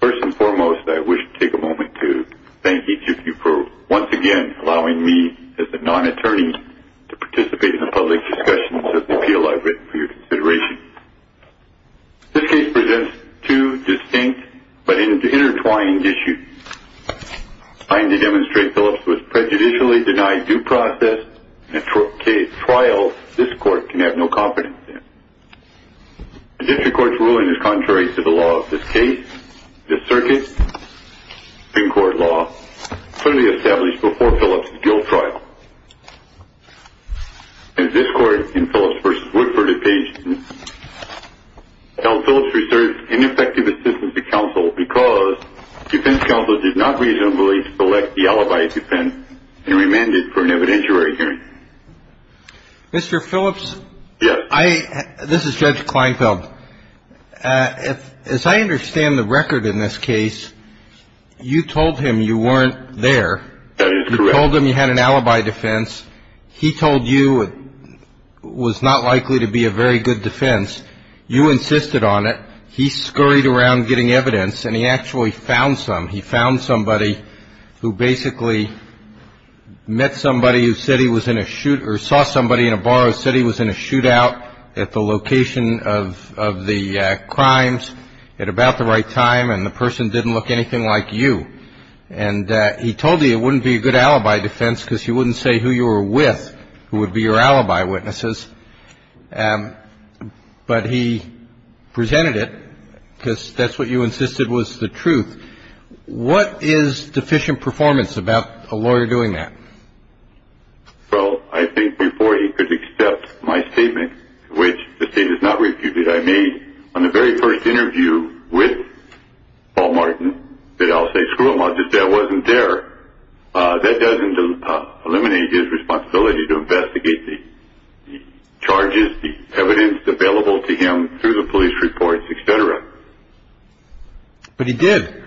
First and foremost, I wish to take a moment to thank each of you for once again allowing me as a non-attorney to participate in the public discussions of the appeal I've written for your consideration. This case presents two distinct but intertwined issues. I am to demonstrate Phillips was prejudicially denied due process in a trial this court can have no confidence in. The district court's ruling is contrary to the law of this case, the circuit in court law clearly established before Phillips' guilt trial. As this court in Phillips v. Woodford obtained, held Phillips reserved ineffective assistance to counsel because defense counsel did not reasonably select the alibi defense and remanded for an evidentiary hearing. Mr. Phillips, this is Judge Kleinfeld. As I understand the record in this case, you told him you weren't there. You told him you had an alibi defense. He told you it was not likely to be a very good defense. You insisted on it. He scurried around getting evidence and he actually found some. He found somebody who basically met somebody who said he was in a shoot or saw somebody in a bar who said he was in a shootout at the location of the crimes at about the right time and the person didn't look anything like you. And he told you it wouldn't be a good alibi defense because he wouldn't say who you were with who would be your alibi witnesses. But he presented it because that's what you insisted was the truth. What is deficient performance about a lawyer doing that? Well, I think before he could accept my statement, which the state has not refuted, I made on the very first interview with Paul Martin that I'll say, screw him, I'll just say I wasn't there. That doesn't eliminate his responsibility to investigate the charges, the evidence available to him through the police reports, etc. But he did.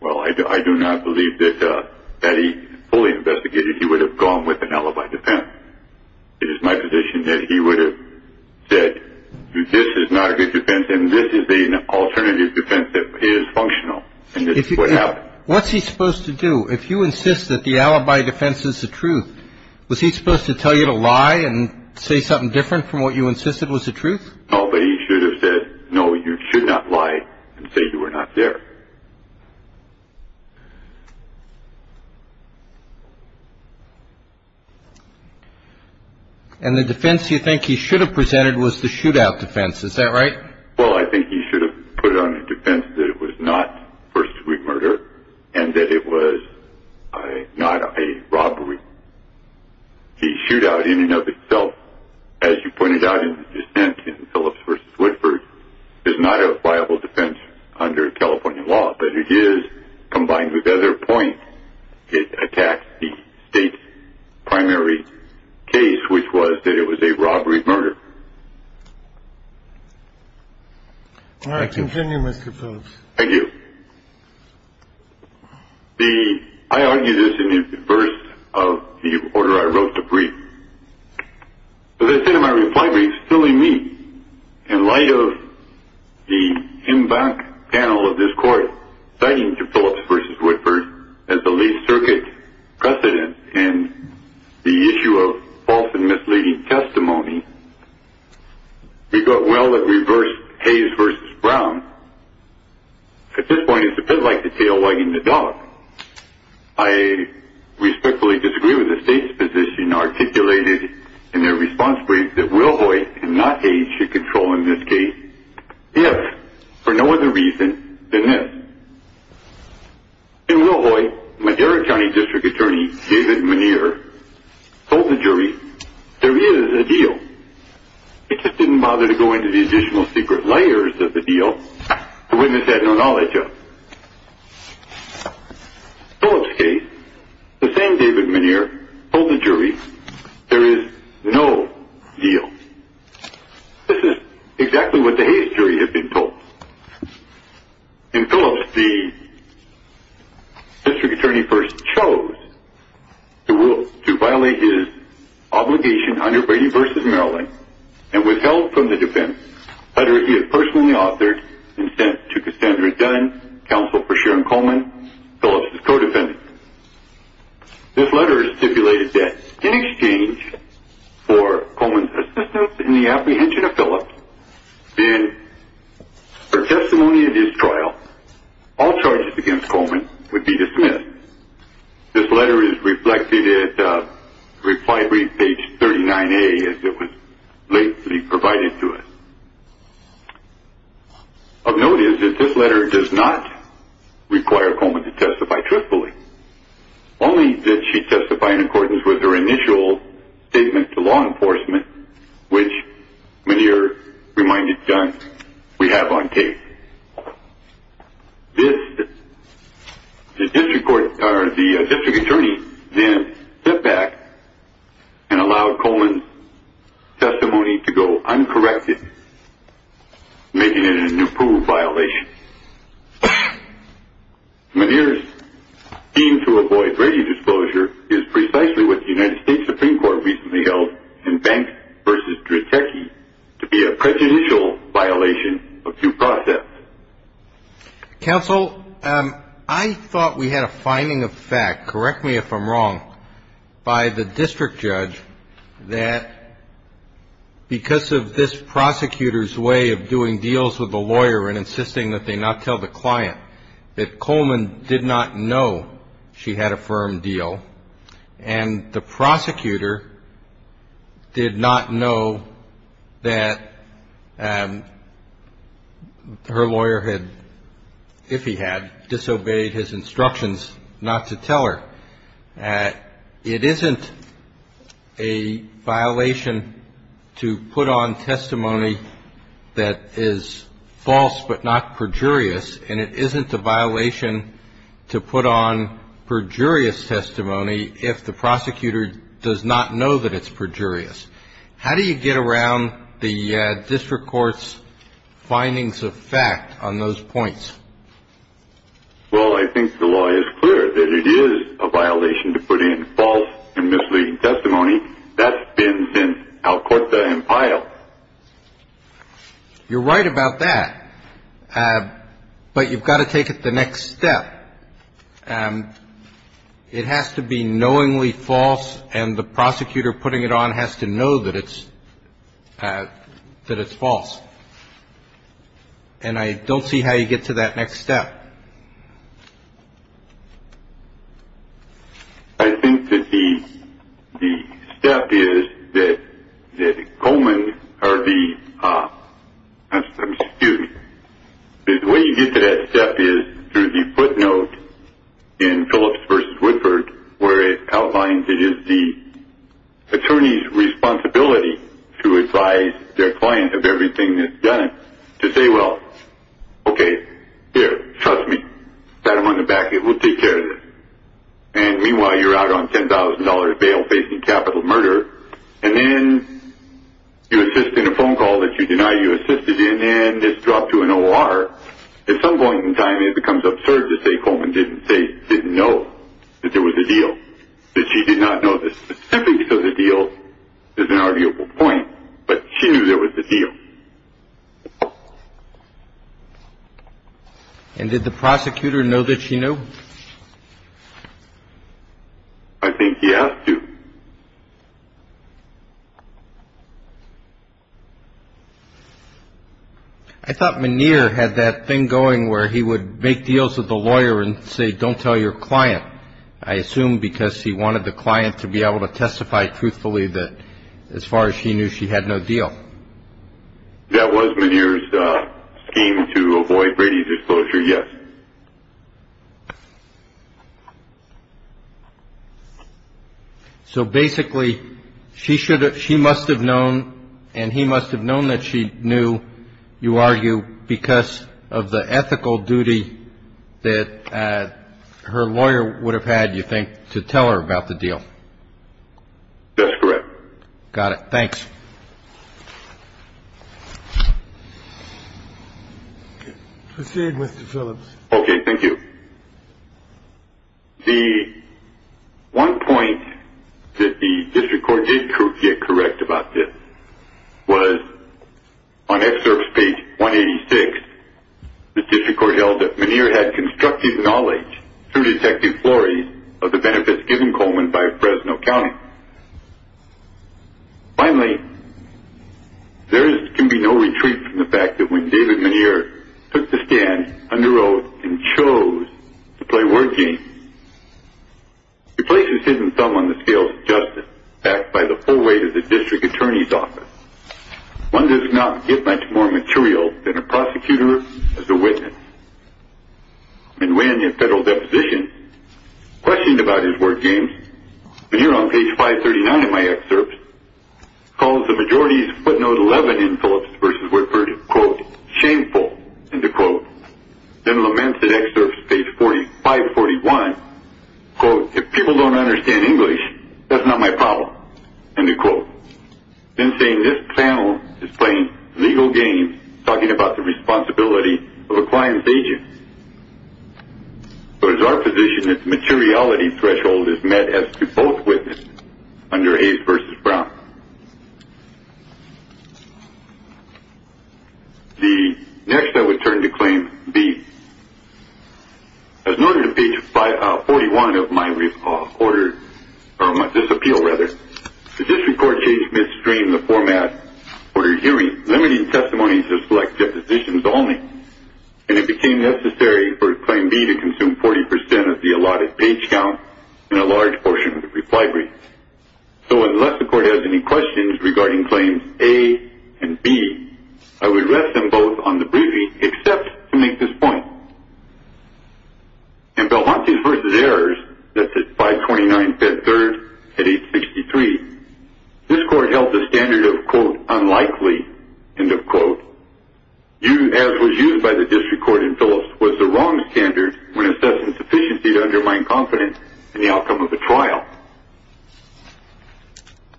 Well, I do not believe that he fully investigated. He would have gone with an alibi defense. It is my position that he would have said this is not a good defense and this is the alternative defense that is functional. What's he supposed to do if you insist that the alibi defense is the truth? Was he supposed to tell you to lie and say something different from what you insisted was the truth? No, but he should have said, no, you should not lie and say you were not there. And the defense you think he should have presented was the shootout defense. Is that right? Well, I think he should have put it on a defense that it was not first degree murder and that it was not a robbery. The shootout in and of itself, as you pointed out in the dissent in Phillips v. Woodford, is not a viable defense under California law, but it is combined with other points. It attacks the state's primary case, which was that it was a robbery murder. All right, continue, Mr. Phillips. Thank you. I argue this in reverse of the order I wrote the brief. The dissent in my reply brief is filling me in light of the in back panel of this court citing to Phillips v. Woodford as the least circuit precedent in the issue of false and Hayes v. Brown. At this point, it's a bit like the tail wagging the dog. I respectfully disagree with the state's position articulated in their response brief that Wilhoite and not Hayes should control in this case, if for no other reason than this. In Wilhoite, Madera County District Attorney David Muneer told the jury there is a deal. He just didn't bother to go into the additional secret layers of the deal. The witness had no knowledge of it. In Phillips' case, the same David Muneer told the jury there is no deal. This is exactly what the Hayes jury had been told. In Phillips, the This letter is stipulated that in exchange for Coleman's assistance in the apprehension of Phillips, in her testimony at his trial, all charges against Coleman would be dismissed. This letter is reflected at reply brief page 39A as it was lately provided to us. Of note is that this letter does not require Coleman to testify truthfully, only that she testify in accordance with her initial statement to law enforcement, which Muneer reminded John we have on tape. This, the district court, or the district attorney then stepped back and allowed Coleman's testimony to go uncorrected, making it an approved violation. Muneer's theme to avoid radio disclosure is precisely what the United States Supreme Court recently held in Banks v. Dratecki to be a prejudicial violation of due process. Counsel, I thought we had a finding of fact, correct me if I'm wrong, by the district judge that because of this prosecutor's way of doing deals with the lawyer and insisting that they not tell the client, that Coleman did not know she had a firm deal and the prosecutor did not know that her lawyer had, if he had, disobeyed his instructions not to tell her. It isn't a violation to put on testimony that is false but not perjurious, and it isn't a violation to put on perjurious testimony if the prosecutor does not know that it's perjurious. How do you get around the district court's findings of fact on those points? Well, I think the law is clear that it is a violation to put in false and misleading testimony. That's been, since Alcorta and Pyle. You're right about that, but you've got to take it the next step. It has to be knowingly false, and the prosecutor putting it on has to know that it's false. And I don't see how you get to that next step. I think that the step is that Coleman, or the, I'm skewed. The way you get to that step is through the footnote in Phillips v. Woodford, where it is done, to say, well, okay, there, trust me, pat him on the back, we'll take care of this. And meanwhile, you're out on $10,000 bail facing capital murder, and then you assist in a phone call that you deny you assisted in, and this dropped to an O.R. At some point in time, it becomes absurd to say Coleman didn't know that there was a deal, that she did not know the specifics of the deal is an arguable point, but she knew there was a deal. And did the prosecutor know that she knew? I think he asked to. I thought Muneer had that thing going where he would make deals with the lawyer and say, don't tell your client, I assume because he wanted the client to be able to testify truthfully that as far as she knew, she had no deal. That was Muneer's scheme to avoid Brady's disclosure, yes. So basically, she must have known and he must have known that she knew, you argue, because of the ethical duty that her lawyer would have had, you think, to tell her about the deal? That's correct. Got it. Thanks. Proceed, Mr. Phillips. Okay, thank you. The one point that the district court did get correct about this was, on excerpts page 186, the district court held that Muneer had constructive knowledge through detective of the benefits given Coleman by Fresno County. Finally, there can be no retreat from the fact that when David Muneer took the stand under oath and chose to play word games, he places his thumb on the scales of justice backed by the full weight of the district attorney's office. One does not get much more material than a prosecutor as a witness. Muneer, in a federal deposition, questioned about his word games, and here on page 539 in my excerpts, calls the majority's footnote 11 in Phillips v. Woodford, quote, shameful, end of quote. Then laments in excerpts page 541, quote, if people don't understand English, that's not my problem, end of quote. Then saying this panel is playing legal games, talking about the responsibility of a client's agent. So it is our position that the materiality threshold is met as to both witnesses under Hayes v. Brown. The next I would turn to claim B. As noted in page 541 of my order, or my disappeal rather, the district court changed midstream the format for limiting testimony to select depositions only, and it became necessary for claim B to consume 40% of the allotted page count and a large portion of the reply brief. So unless the court has any questions regarding claims A and B, I would rest them both on the briefing except to make this point. In Belmontes v. Ayers, that's at 529 Bed 3rd at 863, this court held the standard of, quote, unlikely, end of quote, as was used by the district court in Phillips, was the wrong standard when assessing sufficiency to undermine confidence in the outcome of a trial.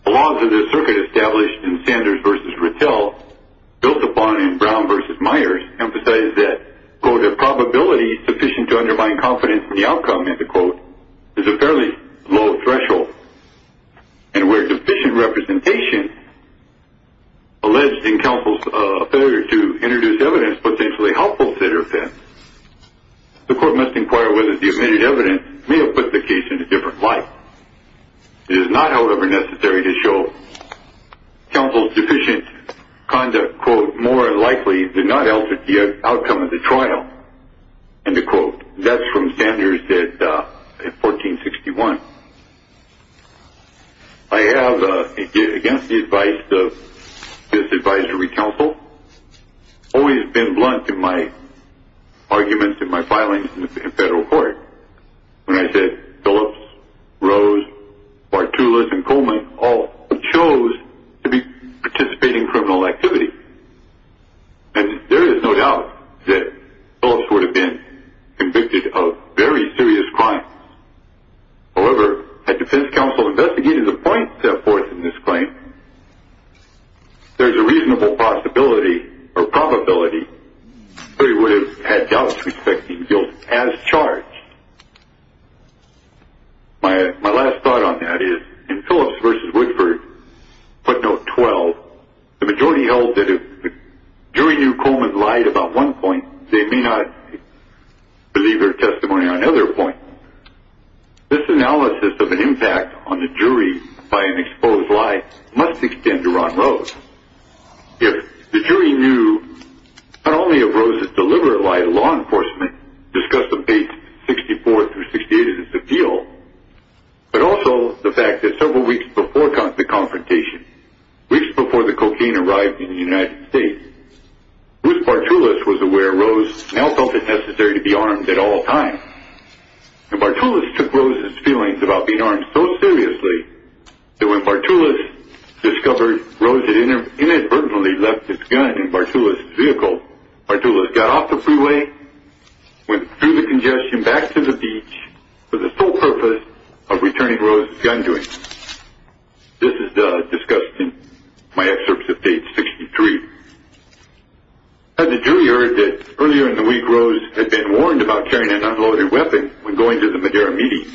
The laws of this circuit established in Sanders v. Rittel, built upon in Brown v. Myers, emphasized that, quote, a probability sufficient to undermine confidence in the outcome, end of quote, is a fairly low threshold. And where deficient representation alleged in counsel's failure to introduce evidence potentially helpful to their offense, the court must inquire whether the admitted evidence may have put the case in a different light. It is not, however, necessary to show counsel's deficient conduct, quote, more than likely did not alter the outcome of the trial, end of quote. That's from Sanders at 1461. I have, again, the advice of this advisory counsel, always been blunt in my arguments in my filings in federal court. When I said Phillips, Rose, Bartulas, and Coleman all chose to participate in criminal activity, there is no doubt that Phillips would have been convicted of very serious crimes. However, had defense counsel investigated the point set forth in this claim, there's a reasonable possibility or probability that he would have had doubts respecting guilt as charged. My last thought on that is, in Phillips v. Woodford, footnote 12, the majority held that if the jury knew Coleman lied about one point, they may not believe their testimony on another point. This analysis of an impact on the jury by an exposed lie must extend to Ron Rose. If the jury knew not only of Rose's deliberate lie to law enforcement, discuss the base 64 through 68 of this appeal, but also the fact that several weeks before the confrontation, weeks before the cocaine arrived in the United States, Bruce Bartulas was aware Rose now felt it necessary to be armed at all times. Bartulas took Rose's feelings about being armed so seriously that when Bartulas discovered Rose had inadvertently left his gun in Bartulas's vehicle, Bartulas got off the freeway, went through the congestion, back to the beach, for the sole purpose of returning Rose's gun to him. This is discussed in my excerpts of page 63. Had the jury heard that earlier in the week Rose had been warned about carrying an unloaded weapon when going to the Madera meeting,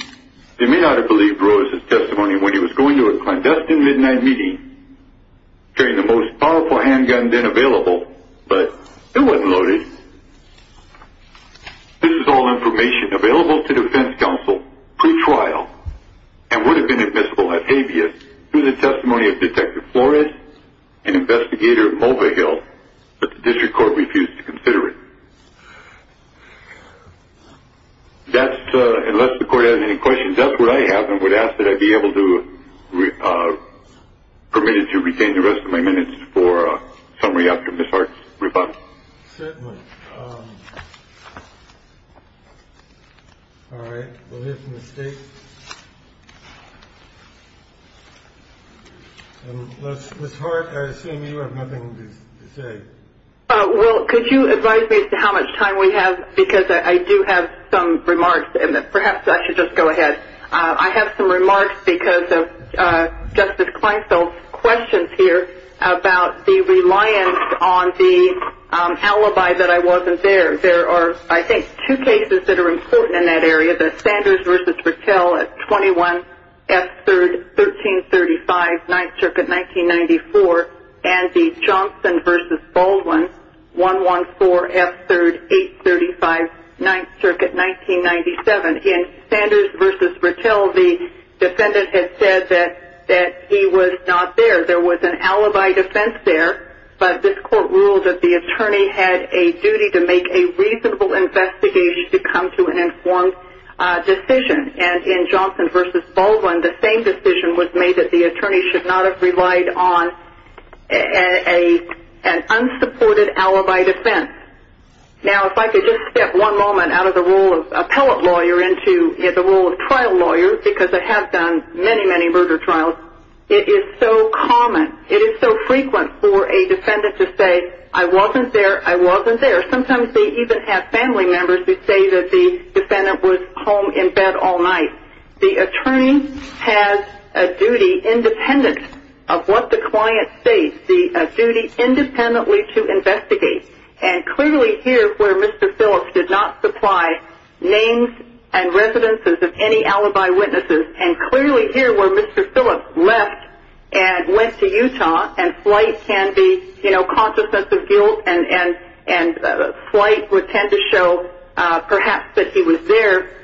they may not have believed Rose's testimony when he was going to a clandestine midnight meeting, carrying the most powerful handgun then available, but it wasn't loaded. This is all information available to defense counsel pre-trial, and would have been admissible at habeas through the testimony of Detective Flores and Investigator Mulvihill, but the district court refused to consider it. That's, unless the court has any questions, that's what I have and would ask that I be able to, permitted to retain the rest of my minutes for a summary after Ms. Hart's rebuttal. Certainly. All right, we'll hear from the state. And Ms. Hart, I assume you have nothing to say. Well, could you advise me as to how much time we have? Because I do have some remarks, and perhaps I should just go ahead. I have some remarks because of Justice Kleinfeld's questions here about the reliance on the alibi that I wasn't there. There are, I think, two cases that are important in that area. The Sanders v. Rattell at 21 F. 3rd, 1335, 9th Circuit, 1994, and the Johnson v. Baldwin, 114 F. 3rd, 835, 9th Circuit, 1997. In Sanders v. Rattell, the defendant had said that he was not there. There was an alibi defense there. But this court ruled that the attorney had a duty to make a reasonable investigation to come to an informed decision. And in Johnson v. Baldwin, the same decision was made that the attorney should not have relied on an unsupported alibi defense. Now, if I could just step one moment out of the role of appellate lawyer into the role of trial lawyer, because I have done many, many murder trials, it is so common, it is so frequent for a defendant to say, I wasn't there, I wasn't there. Sometimes they even have family members who say that the defendant was home in bed all night. The attorney has a duty independent of what the client states, a duty independently to investigate. And clearly here where Mr. Phillips did not supply names and residences of any alibi witnesses, and clearly here where Mr. Phillips left and went to Utah, and flight can be, you know, consciousness of guilt, and flight would tend to show perhaps that he was there,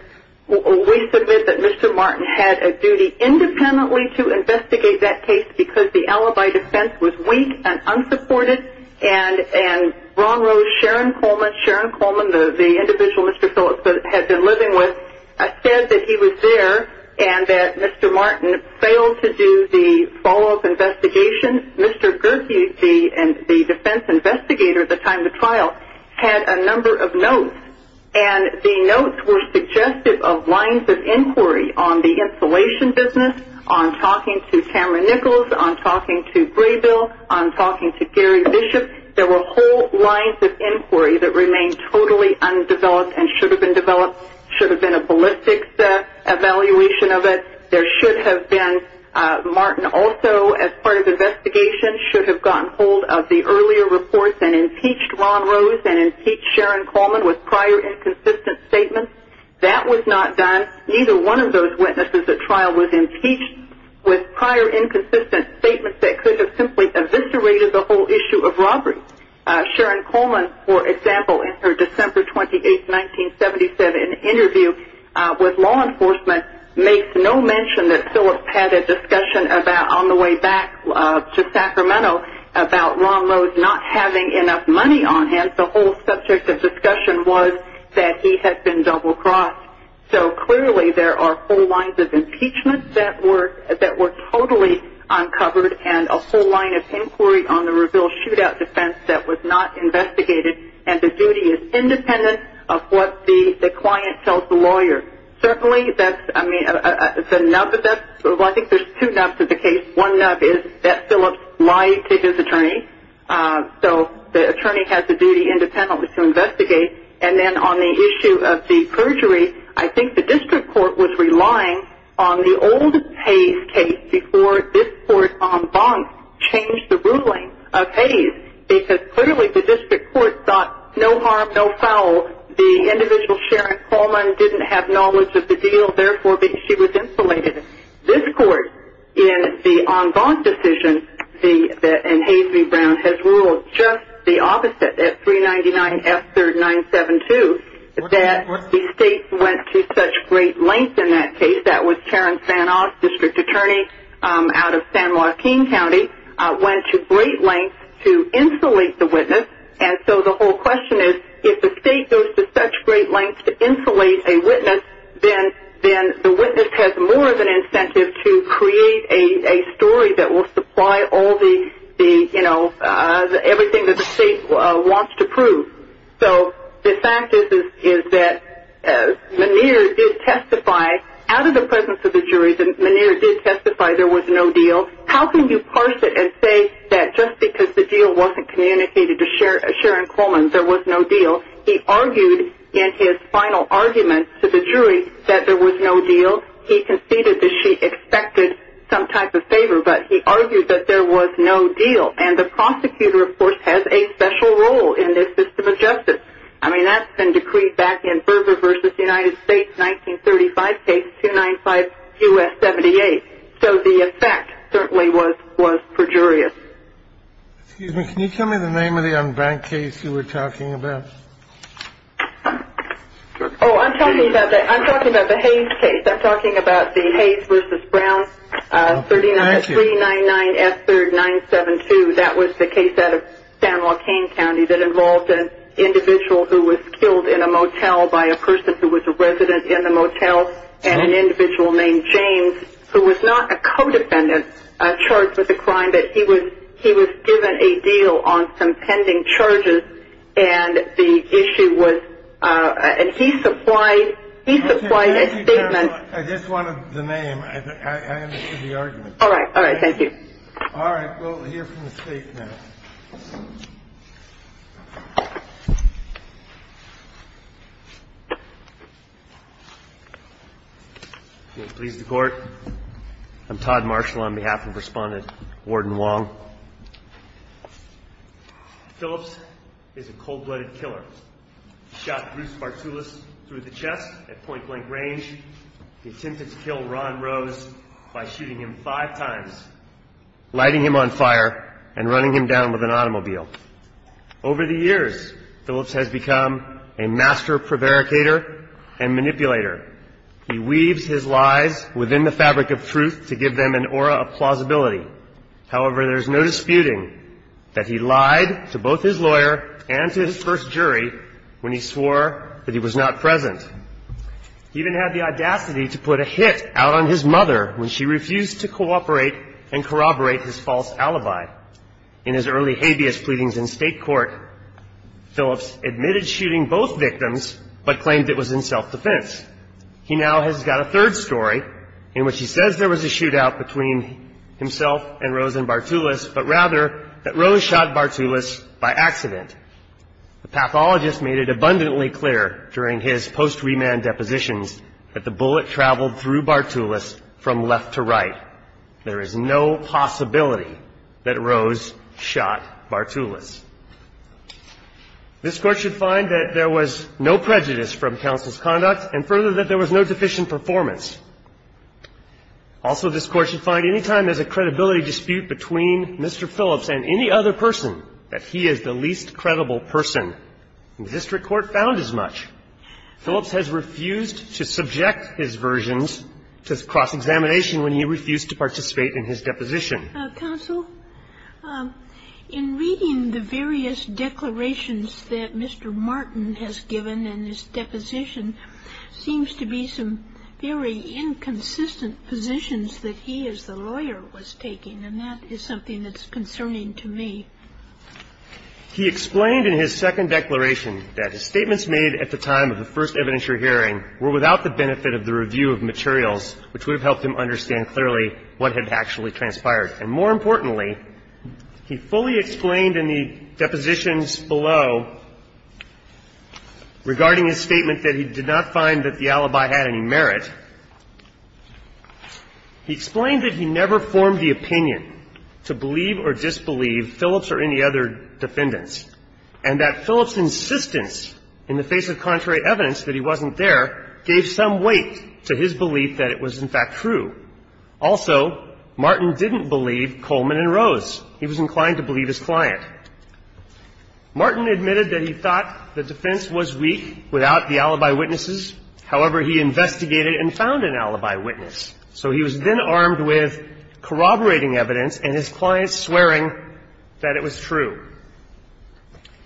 we submit that Mr. Martin had a duty independently to investigate that case because the alibi defense was weak and unsupported, and Ron Rose, Sharon Coleman, Sharon Coleman, the individual Mr. Phillips had been living with, said that he was there and that Mr. Martin failed to do the follow-up investigation. Mr. Gertie, the defense investigator at the time of the trial, had a number of notes, and the notes were suggestive of lines of inquiry on the installation business, on talking to Cameron Nichols, on talking to Braybill, on talking to Gary Bishop, there were whole lines of inquiry that remained totally undeveloped and should have been developed, should have been a ballistics evaluation of it, there should have been, Martin also as part of the investigation should have gotten hold of the earlier reports and impeached Ron Rose and impeached Sharon Coleman with prior inconsistent statements, that was not done, neither one of those witnesses at trial was impeached with prior inconsistent statements that could have simply eviscerated the whole issue of robbery. Sharon Coleman, for example, in her December 28, 1977 interview with law enforcement makes no mention that Phillips had a discussion about, on the way back to Sacramento, about Ron Rose not having enough money on him, the whole subject of discussion was that he had been double-crossed, so clearly there are whole lines of impeachment that were totally uncovered and a whole line of inquiry on the Reveal Shootout defense that was not investigated and the duty is independent of what the client tells the lawyer. Certainly that's, I mean, the nub of that, well I think there's two nubs of the case, one nub is that Phillips lied to his attorney, so the attorney has the duty independently to investigate, and then on the issue of the perjury, I think the district court was relying on the old Hayes case before this court en banc changed the ruling of Hayes, because clearly the district court thought no harm, no foul, the individual Sharon Coleman didn't have knowledge of the deal, therefore she was insulated. This court, in the en banc decision, in Hayes v. Brown, has ruled just the opposite, at 399 F-3972, that the state went to such great lengths in that case, that was Karen Fanoff, district attorney out of San Joaquin County, went to great lengths to insulate the witness, and so the whole question is, if the state goes to such great lengths to insulate a witness, then the witness has more of an incentive to create a story that will supply all the, the, you know, everything that the state wants to prove. So, the fact is that Meniere did testify, out of the presence of the jury, that Meniere did testify there was no deal, how can you parse it and say that just because the deal wasn't communicated to Sharon Coleman, there was no deal, he argued in his final argument to the jury that there was no deal, he conceded that she expected some type of favor, but he argued that there was no deal, and the prosecutor, of course, has a special role in this system of justice. I mean, that's been decreed back in Berger v. United States, 1935 case, 295 U.S. 78, so the effect certainly was perjurious. Excuse me, can you tell me the name of the en banc case you were talking about? Oh, I'm talking about the Hayes case, I'm talking about the Hayes v. Brown, 399S3-972, that was the case out of San Joaquin County that involved an individual who was killed in a motel by a person who was a resident in the motel, and an individual named James, who was not a co-defendant charged with the crime, but he was given a deal on some pending charges, and the issue was, and he supplied a statement. I just wanted the name, I understood the argument. All right, all right, thank you. All right, we'll hear from the State now. Please, the Court. I'm Todd Marshall on behalf of Respondent Warden Wong. Phillips is a cold-blooded killer. He shot Bruce Bartulis through the chest at point-blank range. He attempted to kill Ron Rose by shooting him five times, lighting him on fire, and running him down with an automobile. Over the years, Phillips has become a master prevaricator and manipulator. He weaves his lies within the fabric of truth to give them an aura of plausibility. However, there's no disputing that he lied to both his lawyer and to his first jury when he swore that he was not present. He even had the audacity to put a hit out on his mother when she refused to cooperate and corroborate his false alibi. In his early habeas pleadings in state court, Phillips admitted shooting both victims, but claimed it was in self-defense. He now has got a third story in which he says there was a shootout between himself and Rose and Bartulis, but rather that Rose shot Bartulis by accident. The pathologist made it abundantly clear during his post-remand depositions that the bullet traveled through Bartulis from left to right. There is no possibility that Rose shot Bartulis. This Court should find that there was no prejudice from counsel's conduct and further that there was no deficient performance. Also, this Court should find any time there's a credibility dispute between Mr. Phillips and any other person that he is the least credible person. The district court found as much. Phillips has refused to subject his versions to cross-examination when he refused to participate in his deposition. Counsel, in reading the various declarations that Mr. Martin has given in his deposition, seems to be some very inconsistent positions that he as the lawyer was taking, and that is something that's concerning to me. He explained in his second declaration that his statements made at the time of the first evidence you're hearing were without the benefit of the review of materials, which would have helped him understand clearly what had actually transpired. And more importantly, he fully explained in the depositions below regarding his statement that he did not find that the alibi had any merit. He explained that he never formed the opinion to believe or disbelieve Phillips or any other defendants, and that Phillips' insistence in the face of contrary evidence that he wasn't there gave some weight to his belief that it was, in fact, true. Also, Martin didn't believe Coleman and Rose. He was inclined to believe his client. Martin admitted that he thought the defense was weak without the alibi witnesses. However, he investigated and found an alibi witness. So he was then armed with corroborating evidence and his client swearing that it was true.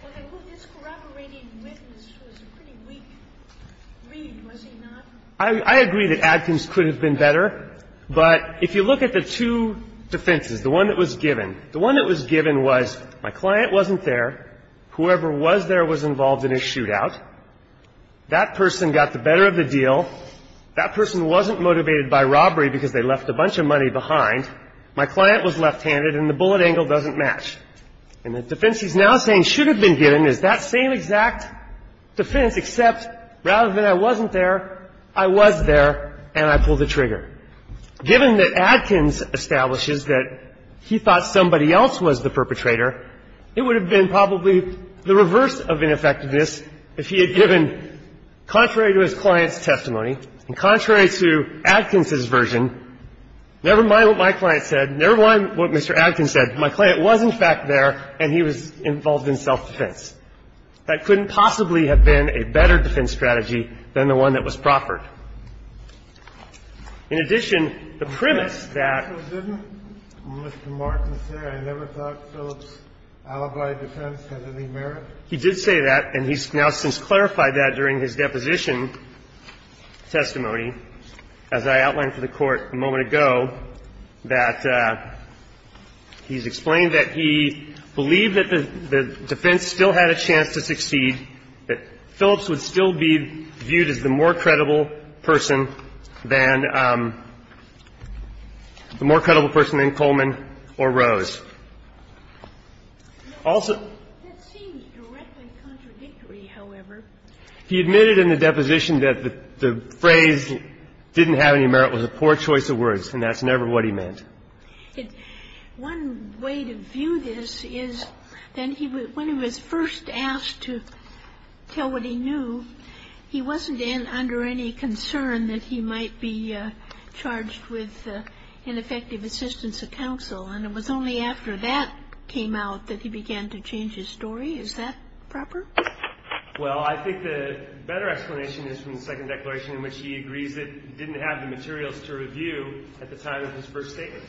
Well, then, this corroborating witness was a pretty weak read, was he not? I agree that Adkins could have been better, but if you look at the two defenses, the one that was given, the one that was given was my client wasn't there. Whoever was there was involved in his shootout. That person got the better of the deal. That person wasn't motivated by robbery because they left a bunch of money behind. My client was left-handed, and the bullet angle doesn't match. And the defense he's now saying should have been given is that same exact defense, except rather than I wasn't there, I was there and I pulled the trigger. Given that Adkins establishes that he thought somebody else was the perpetrator, it would have been probably the reverse of ineffectiveness if he had given, contrary to his client's testimony and contrary to Adkins's version, never mind what my client said, never mind what Mr. Adkins said, my client was in fact there and he was involved in self-defense. That couldn't possibly have been a better defense strategy than the one that was proffered. In addition, the premise that Mr. Martin said, I never thought Phillips' alibi defense had any merit. He did say that, and he's now since clarified that during his deposition testimony. As I outlined for the Court a moment ago, that he's explained that he believed that the defense still had a chance to succeed, that Phillips would still be viewed as the more credible person than the more credible person than Coleman or Rose. Also he admitted in the deposition that the phrase, the phrase that he used, the phrase that he used in his testimony didn't have any merit with a poor choice of words and that's never what he meant. One way to view this is then he would, when he was first asked to tell what he knew, he wasn't under any concern that he might be charged with ineffective assistance of counsel, and it was only after that came out that he began to change his story. And I have not at all changed my mind on this. Kennedy, is that proper? Well, I think the better explanation is from the second declaration in which he agrees that he didn't have the materials to review at the time of his first statement.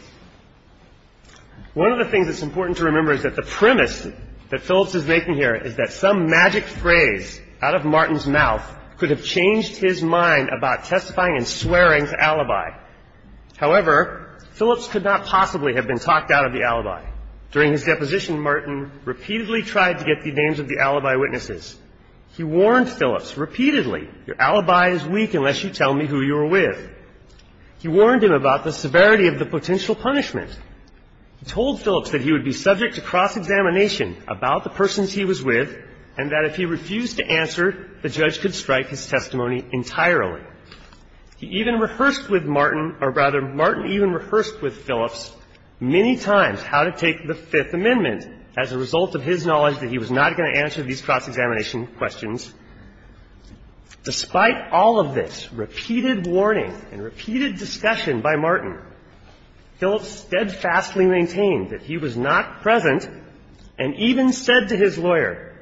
One of the things that is important to remember is that the premise that Phillips is making here is that some magic phrase out of Martin's mouth could have changed his mind about testifying and swearing to alibi. However, Phillips could not possibly have been talked out of the alibi. During his deposition, Martin repeatedly tried to get the names of the alibi witnesses. He warned Phillips repeatedly, your alibi is weak unless you tell me who you were with. He warned him about the severity of the potential punishment. He told Phillips that he would be subject to cross-examination about the persons he was with, and that if he refused to answer, the judge could strike his testimony entirely. He even rehearsed with Martin, or rather, Martin even rehearsed with Phillips many times how to take the Fifth Amendment as a result of his knowledge that he was not going to answer these cross-examination questions. And he was steadfastly maintained that he was not present, and even said to his lawyer,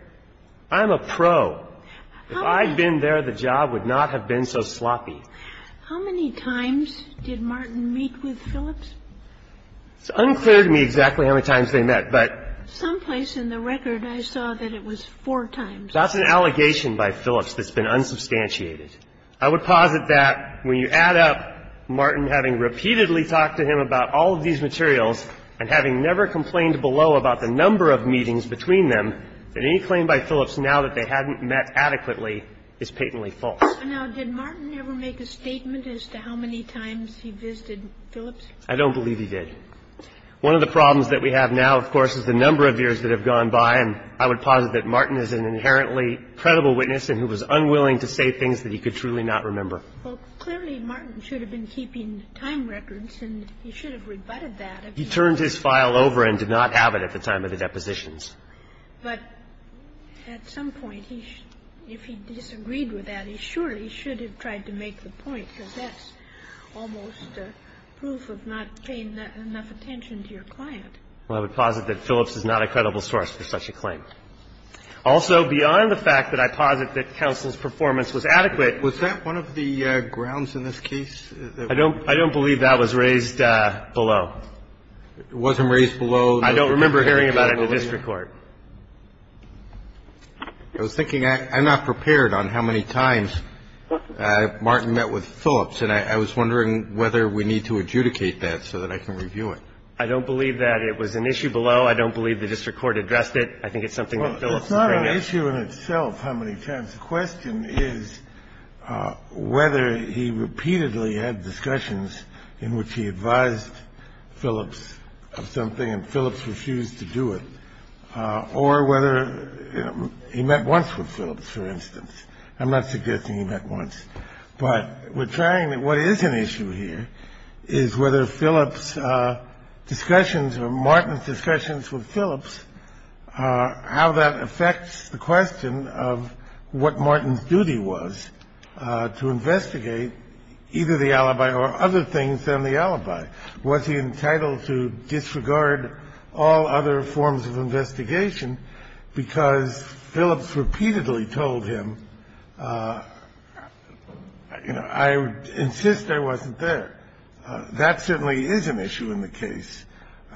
I'm a pro. If I'd been there, the job would not have been so sloppy. How many times did Martin meet with Phillips? It's unclear to me exactly how many times they met, but some place in the record I saw that it was four times. That's an allegation by Phillips that's been unsubstantiated. I would posit that when you add up Martin having repeatedly talked to him about all of these materials, and having never complained below about the number of meetings between them, that any claim by Phillips now that they hadn't met adequately is patently false. Now, did Martin ever make a statement as to how many times he visited Phillips? I don't believe he did. One of the problems that we have now, of course, is the number of years that have gone by, and I would posit that Martin is an inherently credible witness and who was So you could truly not remember. Well, clearly Martin should have been keeping time records, and he should have rebutted that. He turned his file over and did not have it at the time of the depositions. But at some point, he – if he disagreed with that, he surely should have tried to make the point because that's almost a proof of not paying enough attention to your client. Well, I would posit that Phillips is not a credible source for such a claim. Also, beyond the fact that I posit that counsel's performance was adequate – Was that one of the grounds in this case? I don't – I don't believe that was raised below. It wasn't raised below the – I don't remember hearing about it in the district court. I was thinking I'm not prepared on how many times Martin met with Phillips. And I was wondering whether we need to adjudicate that so that I can review it. I don't believe that it was an issue below. I don't believe the district court addressed it. I think it's something that Phillips can bring up. Well, it's not an issue in itself how many times. The question is whether he repeatedly had discussions in which he advised Phillips of something, and Phillips refused to do it, or whether he met once with Phillips, for instance. I'm not suggesting he met once, but we're trying to – what is an issue here is whether Phillips' discussions or Martin's discussions with Phillips, how that affects the question of what Martin's duty was to investigate either the alibi or other things than the alibi. Was he entitled to disregard all other forms of investigation because Phillips repeatedly told him, you know, I insist I wasn't there. That certainly is an issue in the case.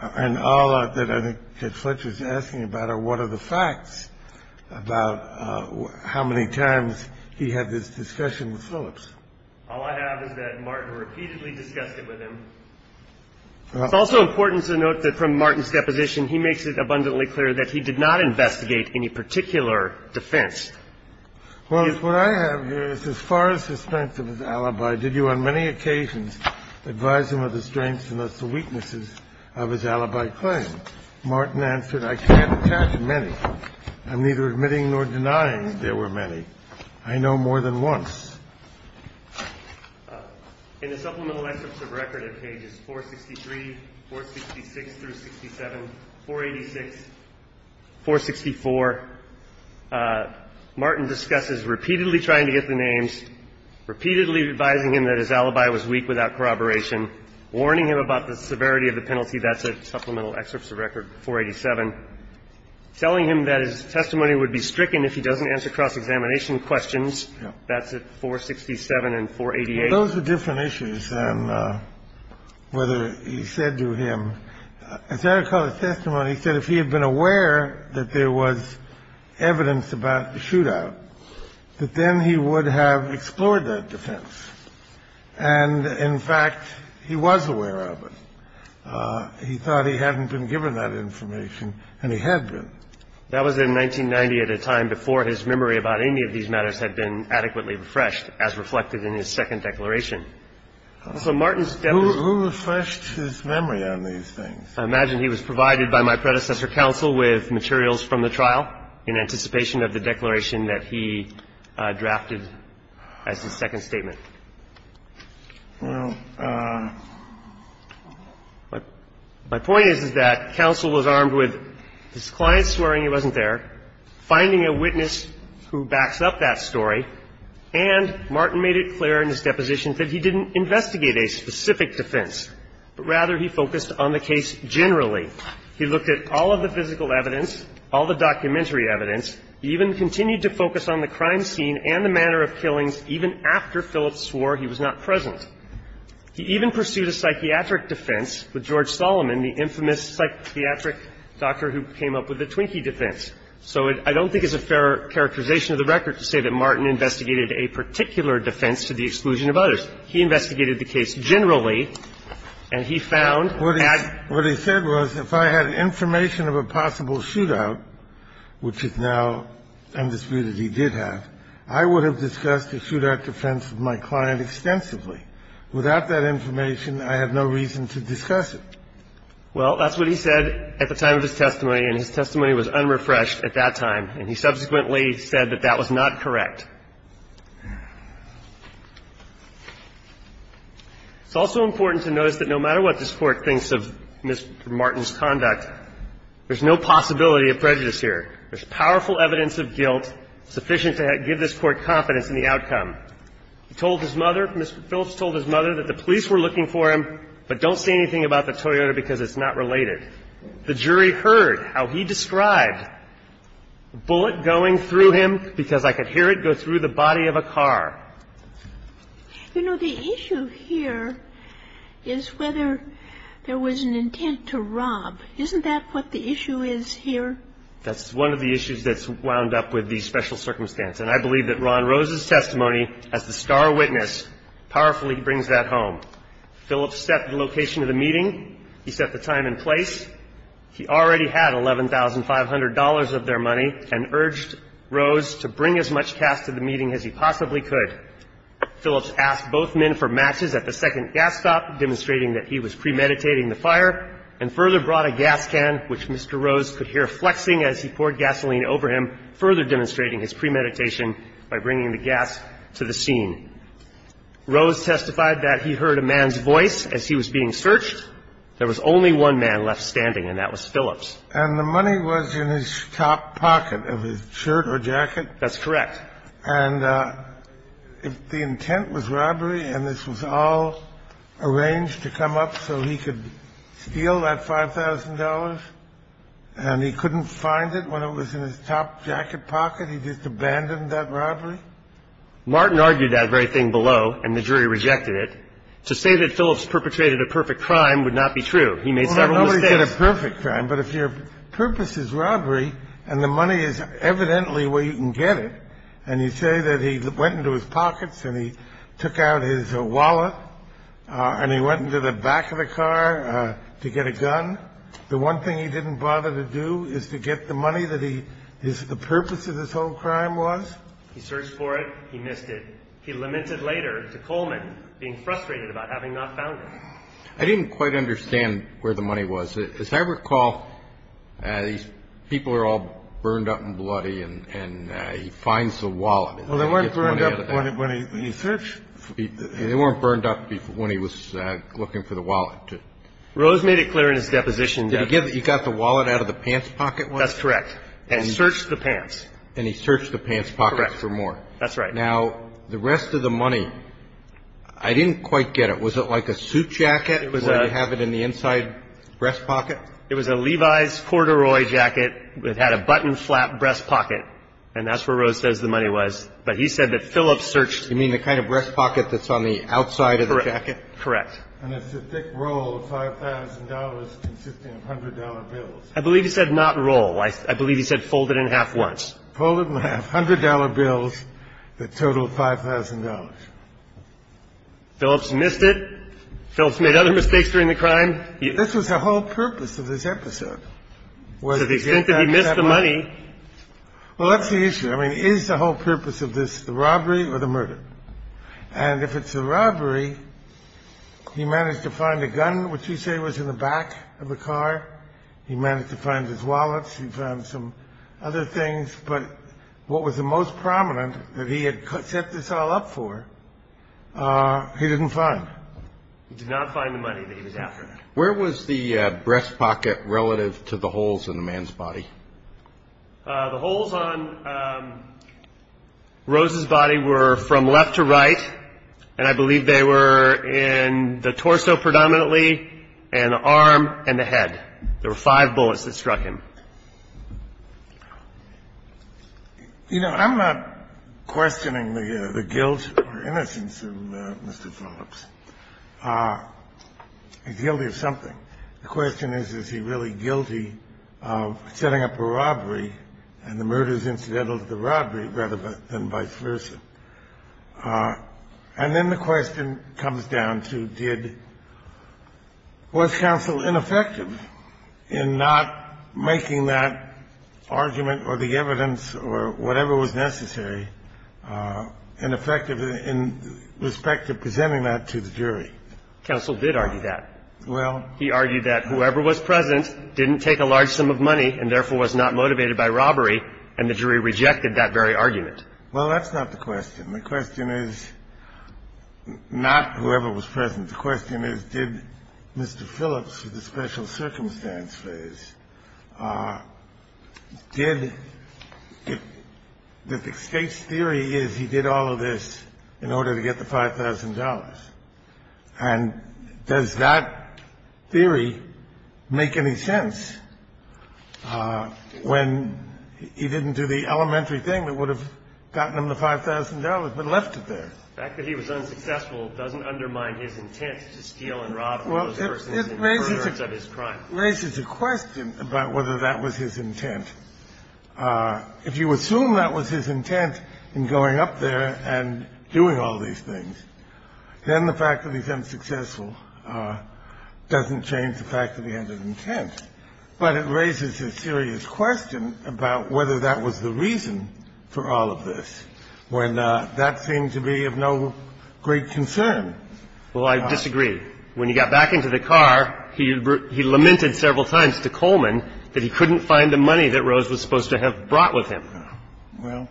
And all that I think Judge Fletcher is asking about are what are the facts about how many times he had this discussion with Phillips. All I have is that Martin repeatedly discussed it with him. It's also important to note that from Martin's deposition, he makes it abundantly clear that he did not investigate any particular defense. Well, what I have here is, as far as suspense of his alibi, did you on many occasions advise him of the strengths and thus the weaknesses of his alibi claim? Martin answered, I can't attach many. I'm neither admitting nor denying there were many. I know more than once. In the supplemental excerpts of record at pages 463, 466 through 67, 486, 464, Martin discusses repeatedly trying to get the names, repeatedly advising him that his alibi was weak without corroboration, warning him about the severity of the penalty. That's a supplemental excerpt of record, 487. Telling him that his testimony would be stricken if he doesn't answer cross-examination questions. That's at 467 and 488. Those are different issues than whether he said to him. As I recall his testimony, he said if he had been aware that there was evidence about the shootout, that then he would have explored that defense. And in fact, he was aware of it. He thought he hadn't been given that information, and he had been. That was in 1990 at a time before his memory about any of these matters had been adequately refreshed, as reflected in his second declaration. So Martin's deputy was not aware of it. Who refreshed his memory on these things? I imagine he was provided by my predecessor, counsel, with materials from the trial in anticipation of the declaration that he drafted as his second statement. Now, my point is, is that counsel was armed with his client swearing he wasn't there, finding a witness who backs up that story, and Martin made it clear in his deposition that he didn't investigate a specific defense, but rather he focused on the case generally. He looked at all of the physical evidence, all the documentary evidence. He even continued to focus on the crime scene and the manner of killings even after Phillips swore he was not present. He even pursued a psychiatric defense with George Solomon, the infamous psychiatric doctor who came up with the Twinkie defense. So I don't think it's a fair characterization of the record to say that Martin investigated a particular defense to the exclusion of others. And I think that's what he said was, if I had information of a possible shootout, which is now undisputed he did have, I would have discussed the shootout defense of my client extensively. Without that information, I have no reason to discuss it. Well, that's what he said at the time of his testimony, and his testimony was unrefreshed at that time, and he subsequently said that that was not correct. It's also important to notice that no matter what this Court thinks of Mr. Martin's conduct, there's no possibility of prejudice here. There's powerful evidence of guilt sufficient to give this Court confidence in the outcome. He told his mother, Mr. Phillips told his mother that the police were looking for him, but don't say anything about the Toyota because it's not related. The jury heard how he described the bullet going through him because I could hear it go through the body of a car. You know, the issue here is whether there was an intent to rob. Isn't that what the issue is here? That's one of the issues that's wound up with the special circumstance. And I believe that Ron Rose's testimony as the star witness powerfully brings that home. Phillips set the location of the meeting. He set the time and place. He already had $11,500 of their money and urged Rose to bring as much gas to the meeting as he possibly could. Phillips asked both men for matches at the second gas stop, demonstrating that he was premeditating the fire, and further brought a gas can, which Mr. Rose could hear flexing as he poured gasoline over him, further demonstrating his premeditation by bringing the gas to the scene. Rose testified that he heard a man's voice as he was being searched. There was only one man left standing, and that was Phillips. And the money was in his top pocket of his shirt or jacket? That's correct. And if the intent was robbery and this was all arranged to come up so he could steal that $5,000 and he couldn't find it when it was in his top jacket pocket, he just abandoned that robbery? Martin argued that very thing below, and the jury rejected it. To say that Phillips perpetrated a perfect crime would not be true. He made several mistakes. Well, nobody did a perfect crime, but if your purpose is robbery and the money is evidently where you can get it, and you say that he went into his pockets and he took out his wallet and he went into the back of the car to get a gun, the one thing he didn't bother to do is to get the money that the purpose of this whole crime was? He searched for it. He missed it. He lamented later to Coleman, being frustrated about having not found it. I didn't quite understand where the money was. As I recall, these people are all burned up and bloody, and he finds the wallet. Well, they weren't burned up when he searched. They weren't burned up when he was looking for the wallet. Rose made it clear in his deposition that he got the wallet out of the pants pocket? That's correct. And searched the pants. And he searched the pants pocket for more. That's right. Now, the rest of the money, I didn't quite get it. Was it like a suit jacket where you have it in the inside breast pocket? It was a Levi's corduroy jacket. It had a button flap breast pocket, and that's where Rose says the money was. But he said that Phillips searched. You mean the kind of breast pocket that's on the outside of the jacket? Correct. And it's a thick roll of $5,000 consisting of $100 bills. I believe he said not roll. I believe he said fold it in half once. Fold it in half. $100 bills that totaled $5,000. Phillips missed it. Phillips made other mistakes during the crime. This was the whole purpose of this episode. To the extent that he missed the money. Well, that's the issue. I mean, is the whole purpose of this the robbery or the murder? And if it's a robbery, he managed to find a gun, which you say was in the back of the car. He managed to find his wallet. He found some other things. But what was the most prominent that he had set this all up for, he didn't find. He did not find the money that he was after. Where was the breast pocket relative to the holes in the man's body? The holes on Rose's body were from left to right. And I believe they were in the torso predominantly and the arm and the head. There were five bullets that struck him. You know, I'm not questioning the guilt or innocence of Mr. Phillips. He's guilty of something. The question is, is he really guilty of setting up a robbery and the murder is incidental to the robbery rather than vice versa? And then the question comes down to, was counsel ineffective in not making that argument or the evidence or whatever was necessary ineffective in respect to presenting that to the jury? Counsel did argue that. Well, he argued that whoever was present didn't take a large sum of money and therefore was not motivated by robbery and the jury rejected that very argument. Well, that's not the question. The question is not whoever was present. The question is, did Mr. Phillips, with the special circumstance phase, did, the state's theory is he did all of this in order to get the $5,000. And does that theory make any sense when he didn't do the elementary thing that would have gotten him the $5,000 but left it there? The fact that he was unsuccessful doesn't undermine his intent to steal and rob all those persons in the occurrence of his crime. Well, it raises a question about whether that was his intent. If you assume that was his intent in going up there and doing all these things, then the fact that he's unsuccessful doesn't change the fact that he had an intent. But it raises a serious question about whether that was the reason for all of this, when that seemed to be of no great concern. Well, I disagree. When he got back into the car, he lamented several times to Coleman that he couldn't find the money that Rose was supposed to have brought with him. Well.